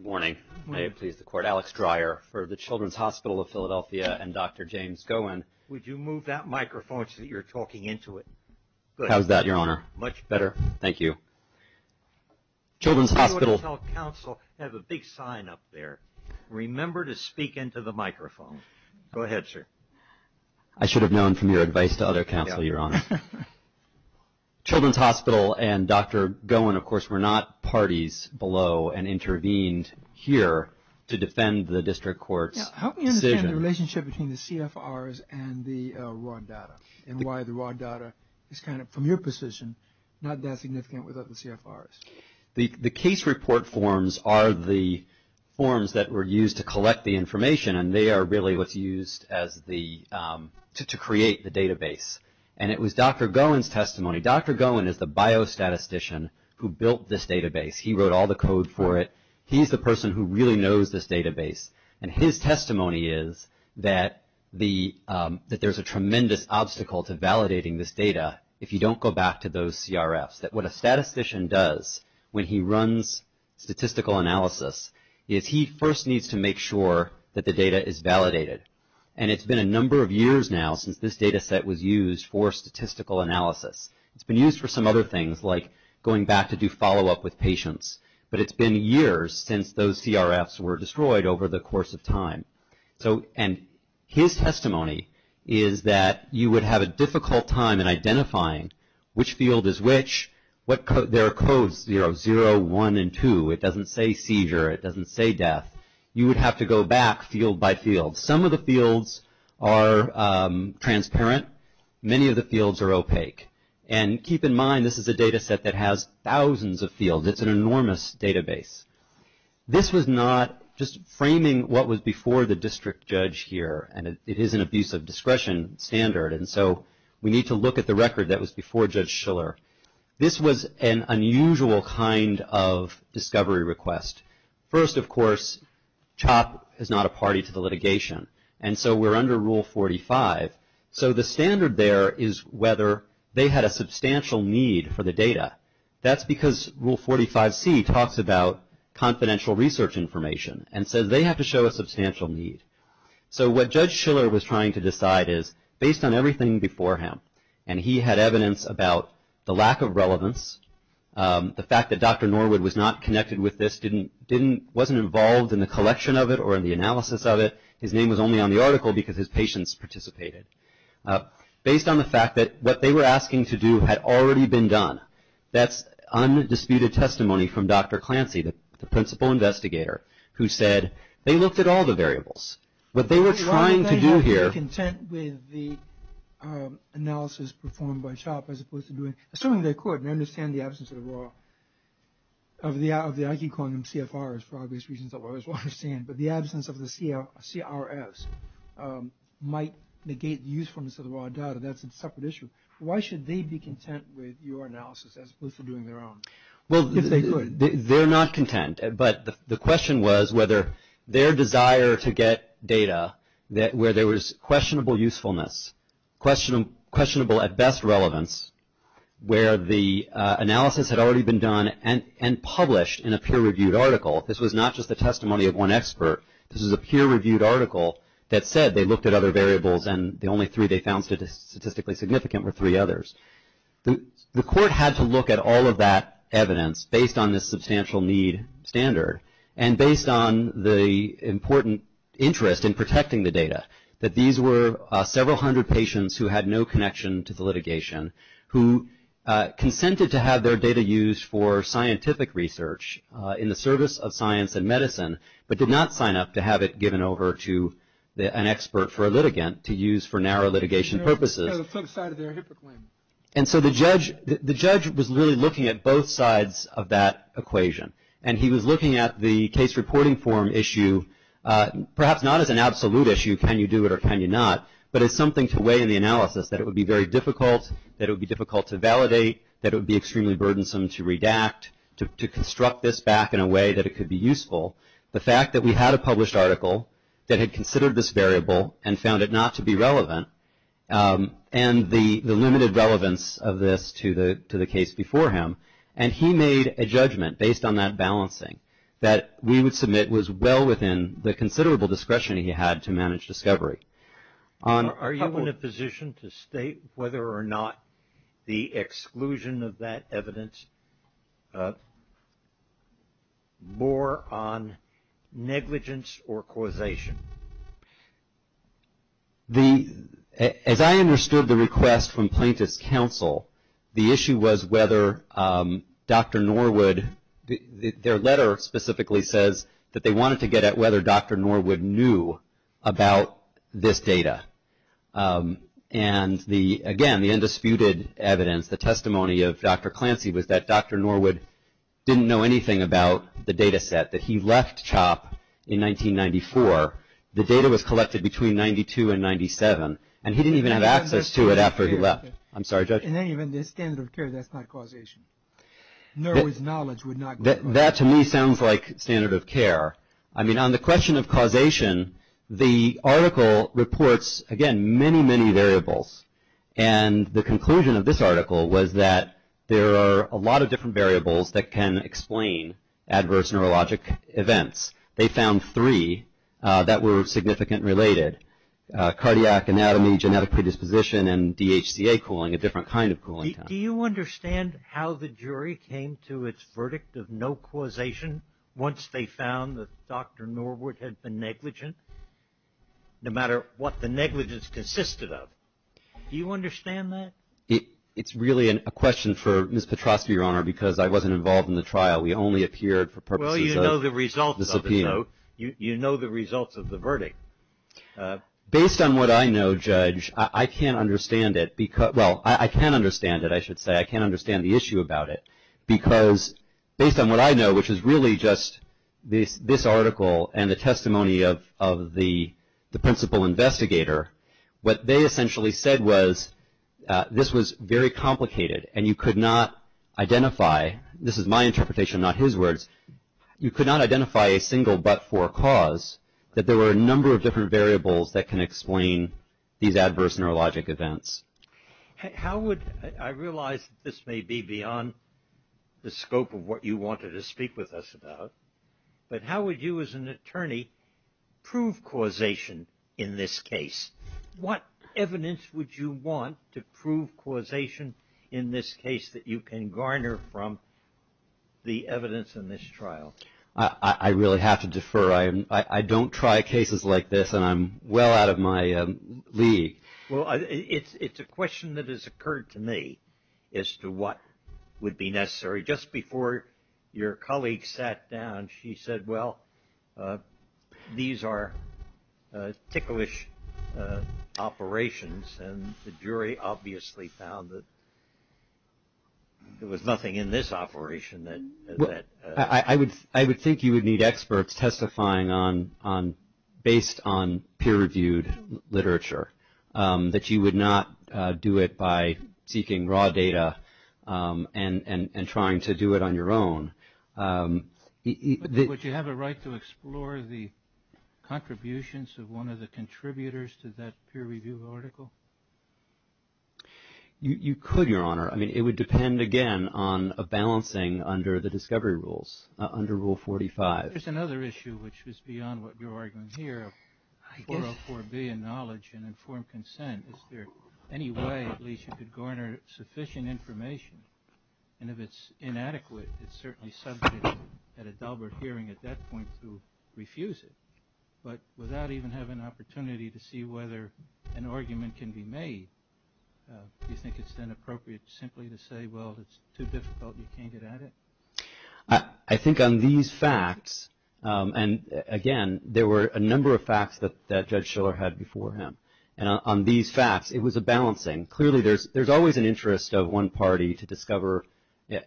Dreyer. May it please the Court, Alex Dreyer for the Children's Hospital of Philadelphia and Dr. James Gowen. Would you move that microphone so that you're talking into it? How's that, Your Honor? Much better. Thank you. Children's Hospital. You ought to tell counsel to have a big sign up there. Remember to speak into the microphone. Go ahead, sir. I should have known from your advice to other counsel, Your Honor. Children's Hospital and Dr. Gowen, of course, were not parties below and intervened here to defend the district court's decision. Help me understand the relationship between the CFRs and the raw data and why the raw data is kind of, from your position, not that significant with other CFRs. The case report forms are the forms that were used to collect the information, and they are really what's used to create the database. And it was Dr. Gowen's testimony. Dr. Gowen is the biostatistician who built this database. He wrote all the code for it. He's the person who really knows this database. And his testimony is that there's a tremendous obstacle to validating this data if you don't go back to those CRFs, that what a statistician does when he runs statistical analysis is he first needs to make sure that the data is validated. And it's been a number of years now since this data set was used for statistical analysis. It's been used for some other things, like going back to do follow-up with patients. But it's been years since those CRFs were destroyed over the course of time. And his testimony is that you would have a difficult time in identifying which field is which. There are codes, you know, 0, 1, and 2. It doesn't say seizure. It doesn't say death. You would have to go back field by field. Some of the fields are transparent. Many of the fields are opaque. And keep in mind, this is a data set that has thousands of fields. It's an enormous database. This was not just framing what was before the district judge here, and it is an abuse of discretion standard, and so we need to look at the record that was before Judge Schiller. This was an unusual kind of discovery request. First, of course, CHOP is not a party to the litigation, and so we're under Rule 45. So the standard there is whether they had a substantial need for the data. That's because Rule 45C talks about confidential research information and says they have to show a substantial need. So what Judge Schiller was trying to decide is, based on everything before him, and he had evidence about the lack of relevance, the fact that Dr. Norwood was not connected with this, wasn't involved in the collection of it or in the analysis of it. His name was only on the article because his patients participated. Based on the fact that what they were asking to do had already been done, that's undisputed testimony from Dr. Clancy, the principal investigator, who said they looked at all the variables. What they were trying to do here… Why was they not content with the analysis performed by CHOP as opposed to doing – assuming they could and understand the absence of the IG calling them CFRs for obvious reasons that lawyers will understand, but the absence of the CRS might negate the usefulness of the raw data. That's a separate issue. Why should they be content with your analysis as opposed to doing their own? Well, they're not content, but the question was whether their desire to get data where there was questionable usefulness, questionable at best relevance, where the analysis had already been done and published in a peer-reviewed article. This was not just the testimony of one expert. This was a peer-reviewed article that said they looked at other variables and the only three they found statistically significant were three others. The court had to look at all of that evidence based on this substantial need standard and based on the important interest in protecting the data, that these were several hundred patients who had no connection to the litigation who consented to have their data used for scientific research in the service of science and medicine but did not sign up to have it given over to an expert for a litigant to use for narrow litigation purposes. So some side of their hypocrisy. And so the judge was really looking at both sides of that equation, and he was looking at the case reporting form issue perhaps not as an absolute issue, can you do it or can you not, but as something to weigh in the analysis that it would be very difficult, that it would be difficult to validate, that it would be extremely burdensome to redact, to construct this back in a way that it could be useful. The fact that we had a published article that had considered this variable and found it not to be relevant and the limited relevance of this to the case before him, and he made a judgment based on that balancing that we would submit was well within the considerable discretion he had to manage discovery. Are you in a position to state whether or not the exclusion of that evidence, more on negligence or causation? As I understood the request from plaintiff's counsel, the issue was whether Dr. Norwood, their letter specifically says that they wanted to get at whether Dr. Norwood knew about this data. And, again, the undisputed evidence, the testimony of Dr. Clancy, was that Dr. Norwood didn't know anything about the data set, that he left CHOP in 1994. The data was collected between 92 and 97, and he didn't even have access to it after he left. I'm sorry, Judge? In any event, the standard of care, that's not causation. Norwood's knowledge would not go that far. That, to me, sounds like standard of care. I mean, on the question of causation, the article reports, again, many, many variables. And the conclusion of this article was that there are a lot of different variables that can explain adverse neurologic events. They found three that were significantly related, cardiac, anatomy, genetic predisposition, and DHDA cooling, a different kind of cooling. Do you understand how the jury came to its verdict of no causation once they found that Dr. Norwood had been negligent, no matter what the negligence consisted of? Do you understand that? It's really a question for Ms. Petrosky, Your Honor, because I wasn't involved in the trial. We only appeared for purposes of the subpoena. Well, you know the results of the subpoena. You know the results of the verdict. Based on what I know, Judge, I can't understand it. Well, I can understand it, I should say. I can understand the issue about it, because based on what I know, which is really just this article and the testimony of the principal investigator, what they essentially said was this was very complicated, and you could not identify. This is my interpretation, not his words. You could not identify a single but-for cause that there were a number of different variables that can explain these adverse neurologic events. I realize this may be beyond the scope of what you wanted to speak with us about, but how would you as an attorney prove causation in this case? What evidence would you want to prove causation in this case that you can garner from the evidence in this trial? I really have to defer. I don't try cases like this, and I'm well out of my league. Well, it's a question that has occurred to me as to what would be necessary. Just before your colleague sat down, she said, well, these are ticklish operations, and the jury obviously found that there was nothing in this operation that ---- I would think you would need experts testifying based on peer-reviewed literature, that you would not do it by seeking raw data and trying to do it on your own. Would you have a right to explore the contributions of one of the contributors to that peer-reviewed article? You could, Your Honor. I mean, it would depend, again, on a balancing under the discovery rules, under Rule 45. There's another issue, which is beyond what you're arguing here, of 404 billion knowledge and informed consent. Is there any way at least you could garner sufficient information? And if it's inadequate, it's certainly subject at a double hearing at that point to refuse it. But without even having an opportunity to see whether an argument can be made, do you think it's then appropriate simply to say, well, it's too difficult and you can't get at it? I think on these facts, and again, there were a number of facts that Judge Shiller had before him. And on these facts, it was a balancing. Clearly, there's always an interest of one party to discover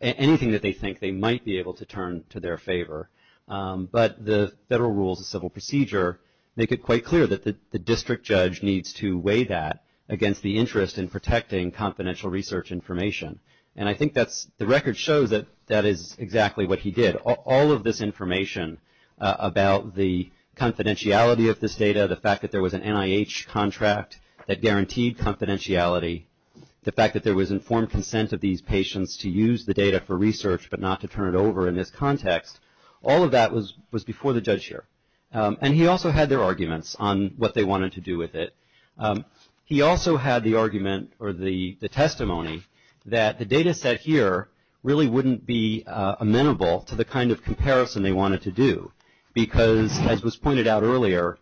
anything that they think they might be able to turn to their favor. But the Federal Rules of Civil Procedure make it quite clear that the district judge needs to weigh that against the interest in protecting confidential research information. And I think the record shows that that is exactly what he did. All of this information about the confidentiality of this data, the fact that there was an NIH contract that guaranteed confidentiality, the fact that there was informed consent of these patients to use the data for research but not to turn it over in this context, all of that was before the judge here. And he also had their arguments on what they wanted to do with it. He also had the argument or the testimony that the data set here really wouldn't be amenable to the kind of comparison they wanted to do because, as was pointed out earlier,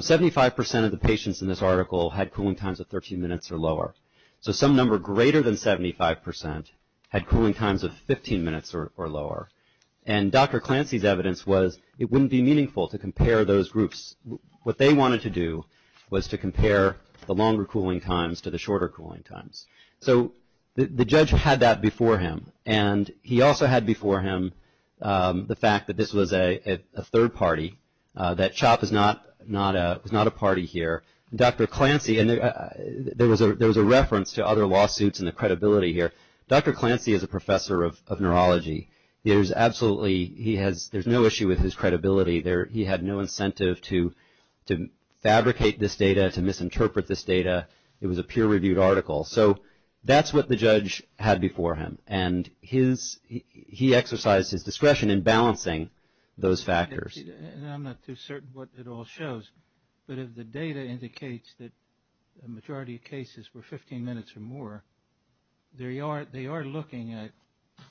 75 percent of the patients in this article had cooling times of 13 minutes or lower. So some number greater than 75 percent had cooling times of 15 minutes or lower. And Dr. Clancy's evidence was it wouldn't be meaningful to compare those groups. What they wanted to do was to compare the longer cooling times to the shorter cooling times. So the judge had that before him. And he also had before him the fact that this was a third party, that CHOP is not a party here. Dr. Clancy, and there was a reference to other lawsuits and the credibility here. Dr. Clancy is a professor of neurology. There's absolutely no issue with his credibility. He had no incentive to fabricate this data, to misinterpret this data. It was a peer-reviewed article. So that's what the judge had before him. And he exercised his discretion in balancing those factors. I'm not too certain what it all shows, but if the data indicates that the majority of cases were 15 minutes or more, they are looking at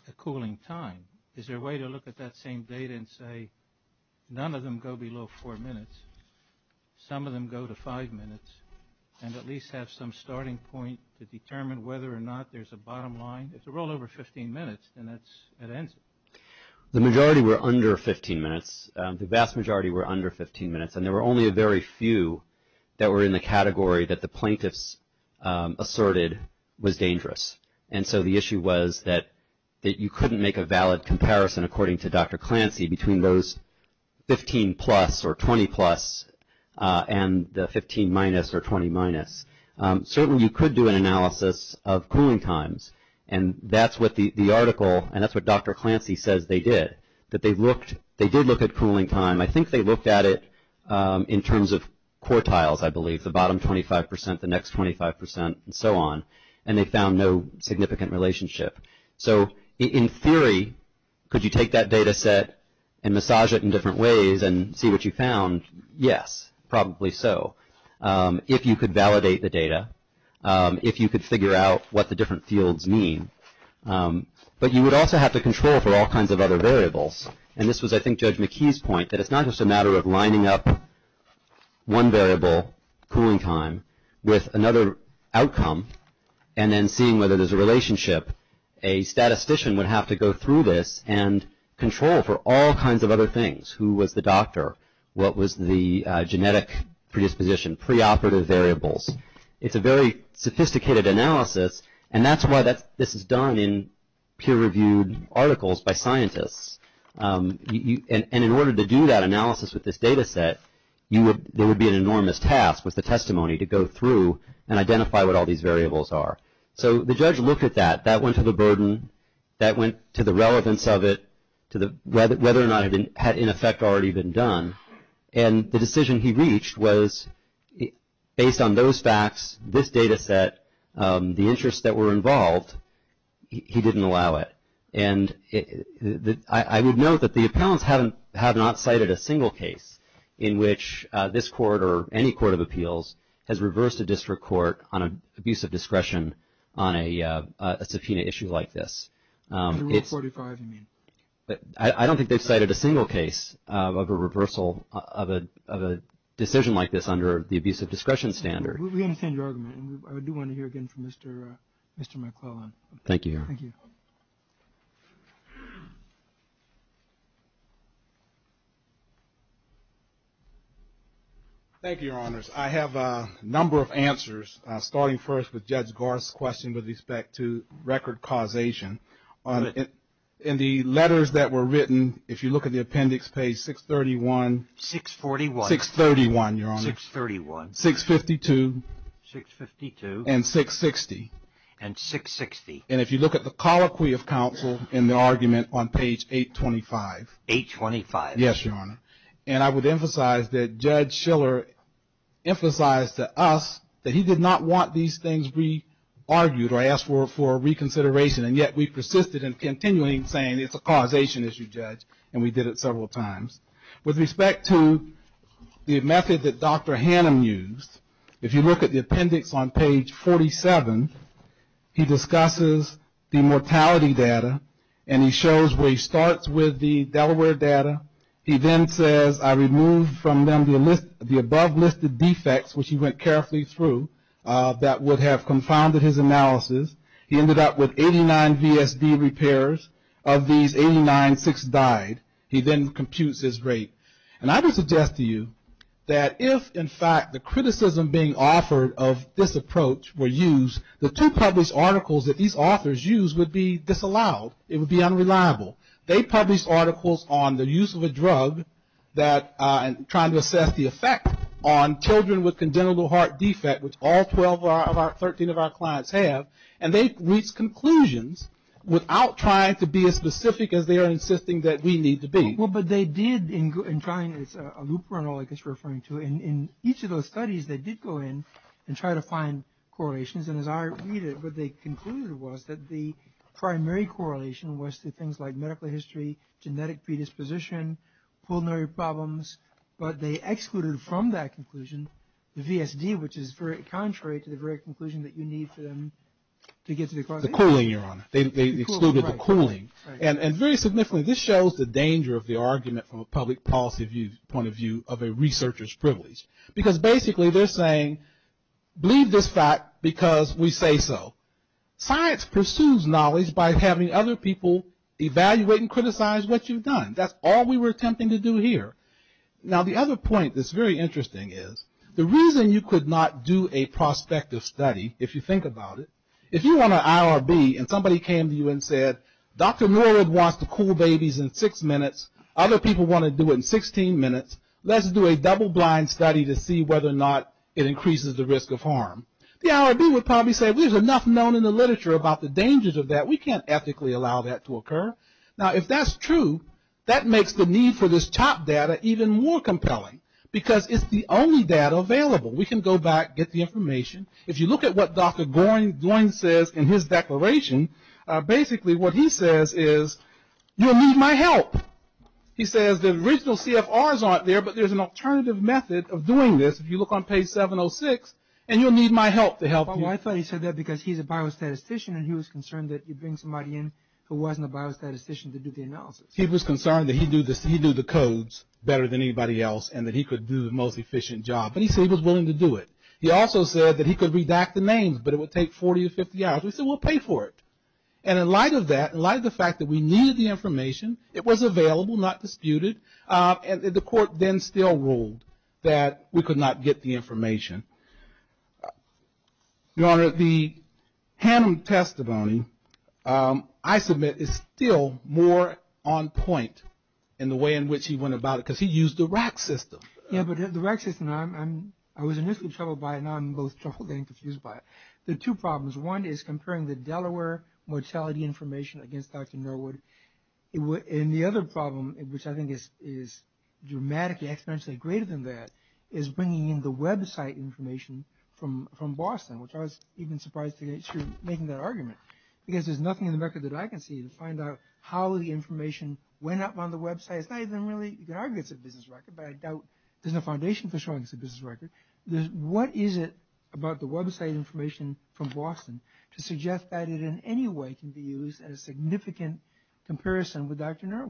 the cooling time. Is there a way to look at that same data and say none of them go below four minutes, some of them go to five minutes, and at least have some starting point to determine whether or not there's a bottom line? It's a little over 15 minutes, and that's it. The majority were under 15 minutes. The vast majority were under 15 minutes, and there were only a very few that were in the category that the plaintiffs asserted was dangerous. And so the issue was that you couldn't make a valid comparison, according to Dr. Clancy, between those 15-plus or 20-plus and the 15-minus or 20-minus. Certainly you could do an analysis of cooling times, and that's what the article and that's what Dr. Clancy says they did, that they did look at cooling time. I think they looked at it in terms of quartiles, I believe, the bottom 25%, the next 25%, and so on, and they found no significant relationship. So in theory, could you take that data set and massage it in different ways and see what you found? Yes, probably so, if you could validate the data, if you could figure out what the different fields mean. But you would also have to control for all kinds of other variables. And this was, I think, Judge McKee's point, that it's not just a matter of lining up one variable, cooling time, with another outcome, and then seeing whether there's a relationship. A statistician would have to go through this and control for all kinds of other things. Who was the doctor? What was the genetic predisposition? Preoperative variables. It's a very sophisticated analysis, and that's why this is done in peer-reviewed articles by scientists. And in order to do that analysis with this data set, there would be an enormous task with the testimony to go through and identify what all these variables are. So the judge looked at that. That went to the burden, that went to the relevance of it, whether or not it had, in effect, already been done. And the decision he reached was, based on those facts, this data set, the interests that were involved, he didn't allow it. And I would note that the appellants have not cited a single case in which this court or any court of appeals has reversed a district court on an abuse of discretion on a subpoena issue like this. Rule 45, you mean? I don't think they've cited a single case of a reversal of a decision like this under the abuse of discretion standard. We understand your argument, and I do want to hear again from Mr. McClellan. Thank you. Thank you, Your Honors. I have a number of answers, starting first with Judge Garth's question with respect to record causation. In the letters that were written, if you look at the appendix, page 631. 641. 631, Your Honor. 631. 652. 652. And 660. And 660. And if you look at the colloquy of counsel in the argument on page 825. 825. Yes, Your Honor. And I would emphasize that Judge Shiller emphasized to us that he did not want these things re-argued or asked for reconsideration, and yet we persisted in continuing saying it's a causation issue, Judge, and we did it several times. With respect to the method that Dr. Hannum used, if you look at the appendix on page 47, he discusses the mortality data, and he shows where he starts with the Delaware data. He then says, I removed from them the above-listed defects, which he went carefully through, that would have confounded his analysis. He ended up with 89 VSD repairs. Of these, 89 fixed died. He then computes his rate. And I would suggest to you that if, in fact, the criticism being offered of this approach were used, the two published articles that these authors used would be disallowed. It would be unreliable. They published articles on the use of a drug and trying to assess the effect on children with congenital heart defect, which all 13 of our clients have, and they reached conclusions without trying to be as specific as they are insisting that we need to be. Well, but they did, in trying to find a loophole, I guess you're referring to, in each of those studies they did go in and try to find correlations, and as I read it what they concluded was that the primary correlation was to things like medical history, genetic predisposition, pulmonary problems, but they excluded from that conclusion the VSD, which is very contrary to the very conclusion that you need to get to the correlation. The cooling, Your Honor. They excluded the cooling. And very significantly, this shows the danger of the argument from a public policy point of view of a researcher's privilege, because basically they're saying, believe this fact because we say so. Science pursues knowledge by having other people evaluate and criticize what you've done. That's all we were attempting to do here. Now, the other point that's very interesting is the reason you could not do a prospective study, if you think about it, if you were on an IRB and somebody came to you and said, Dr. Norwood wants to cool babies in six minutes, other people want to do it in 16 minutes, let's do a double-blind study to see whether or not it increases the risk of harm, the IRB would probably say, there's enough known in the literature about the dangers of that. We can't ethically allow that to occur. Now, if that's true, that makes the need for this top data even more compelling, because it's the only data available. We can go back, get the information. If you look at what Dr. Groin says in his declaration, basically what he says is, you'll need my help. He says the original CFRs aren't there, but there's an alternative method of doing this. If you look on page 706, and you'll need my help to help you. I thought he said that because he's a biostatistician, and he was concerned that he'd bring somebody in who wasn't a biostatistician to do the analysis. He was concerned that he'd do the codes better than anybody else, and that he could do the most efficient job, but he said he was willing to do it. He also said that he could redact the names, but it would take 40 or 50 hours. He said, we'll pay for it. And in light of that, in light of the fact that we needed the information, it was available, not disputed, the court then still ruled that we could not get the information. Your Honor, the Hannum testimony, I submit, is still more on point in the way in which he went about it, because he used the RAC system. Yeah, but the RAC system, I was initially troubled by it. Now I'm both troubled and confused by it. There are two problems. One is comparing the Delaware mortality information against Dr. Millward. And the other problem, which I think is dramatically exponentially greater than that, is bringing in the website information from Boston, which I was even surprised to hear you making that argument, because there's nothing in the record that I can see to find out how the information went up on the website. It's not even really, you can argue it's a business record, but I doubt there's a foundation for showing it's a business record. What is it about the website information from Boston to suggest that it in any way can be used as significant comparison with Dr. Millward?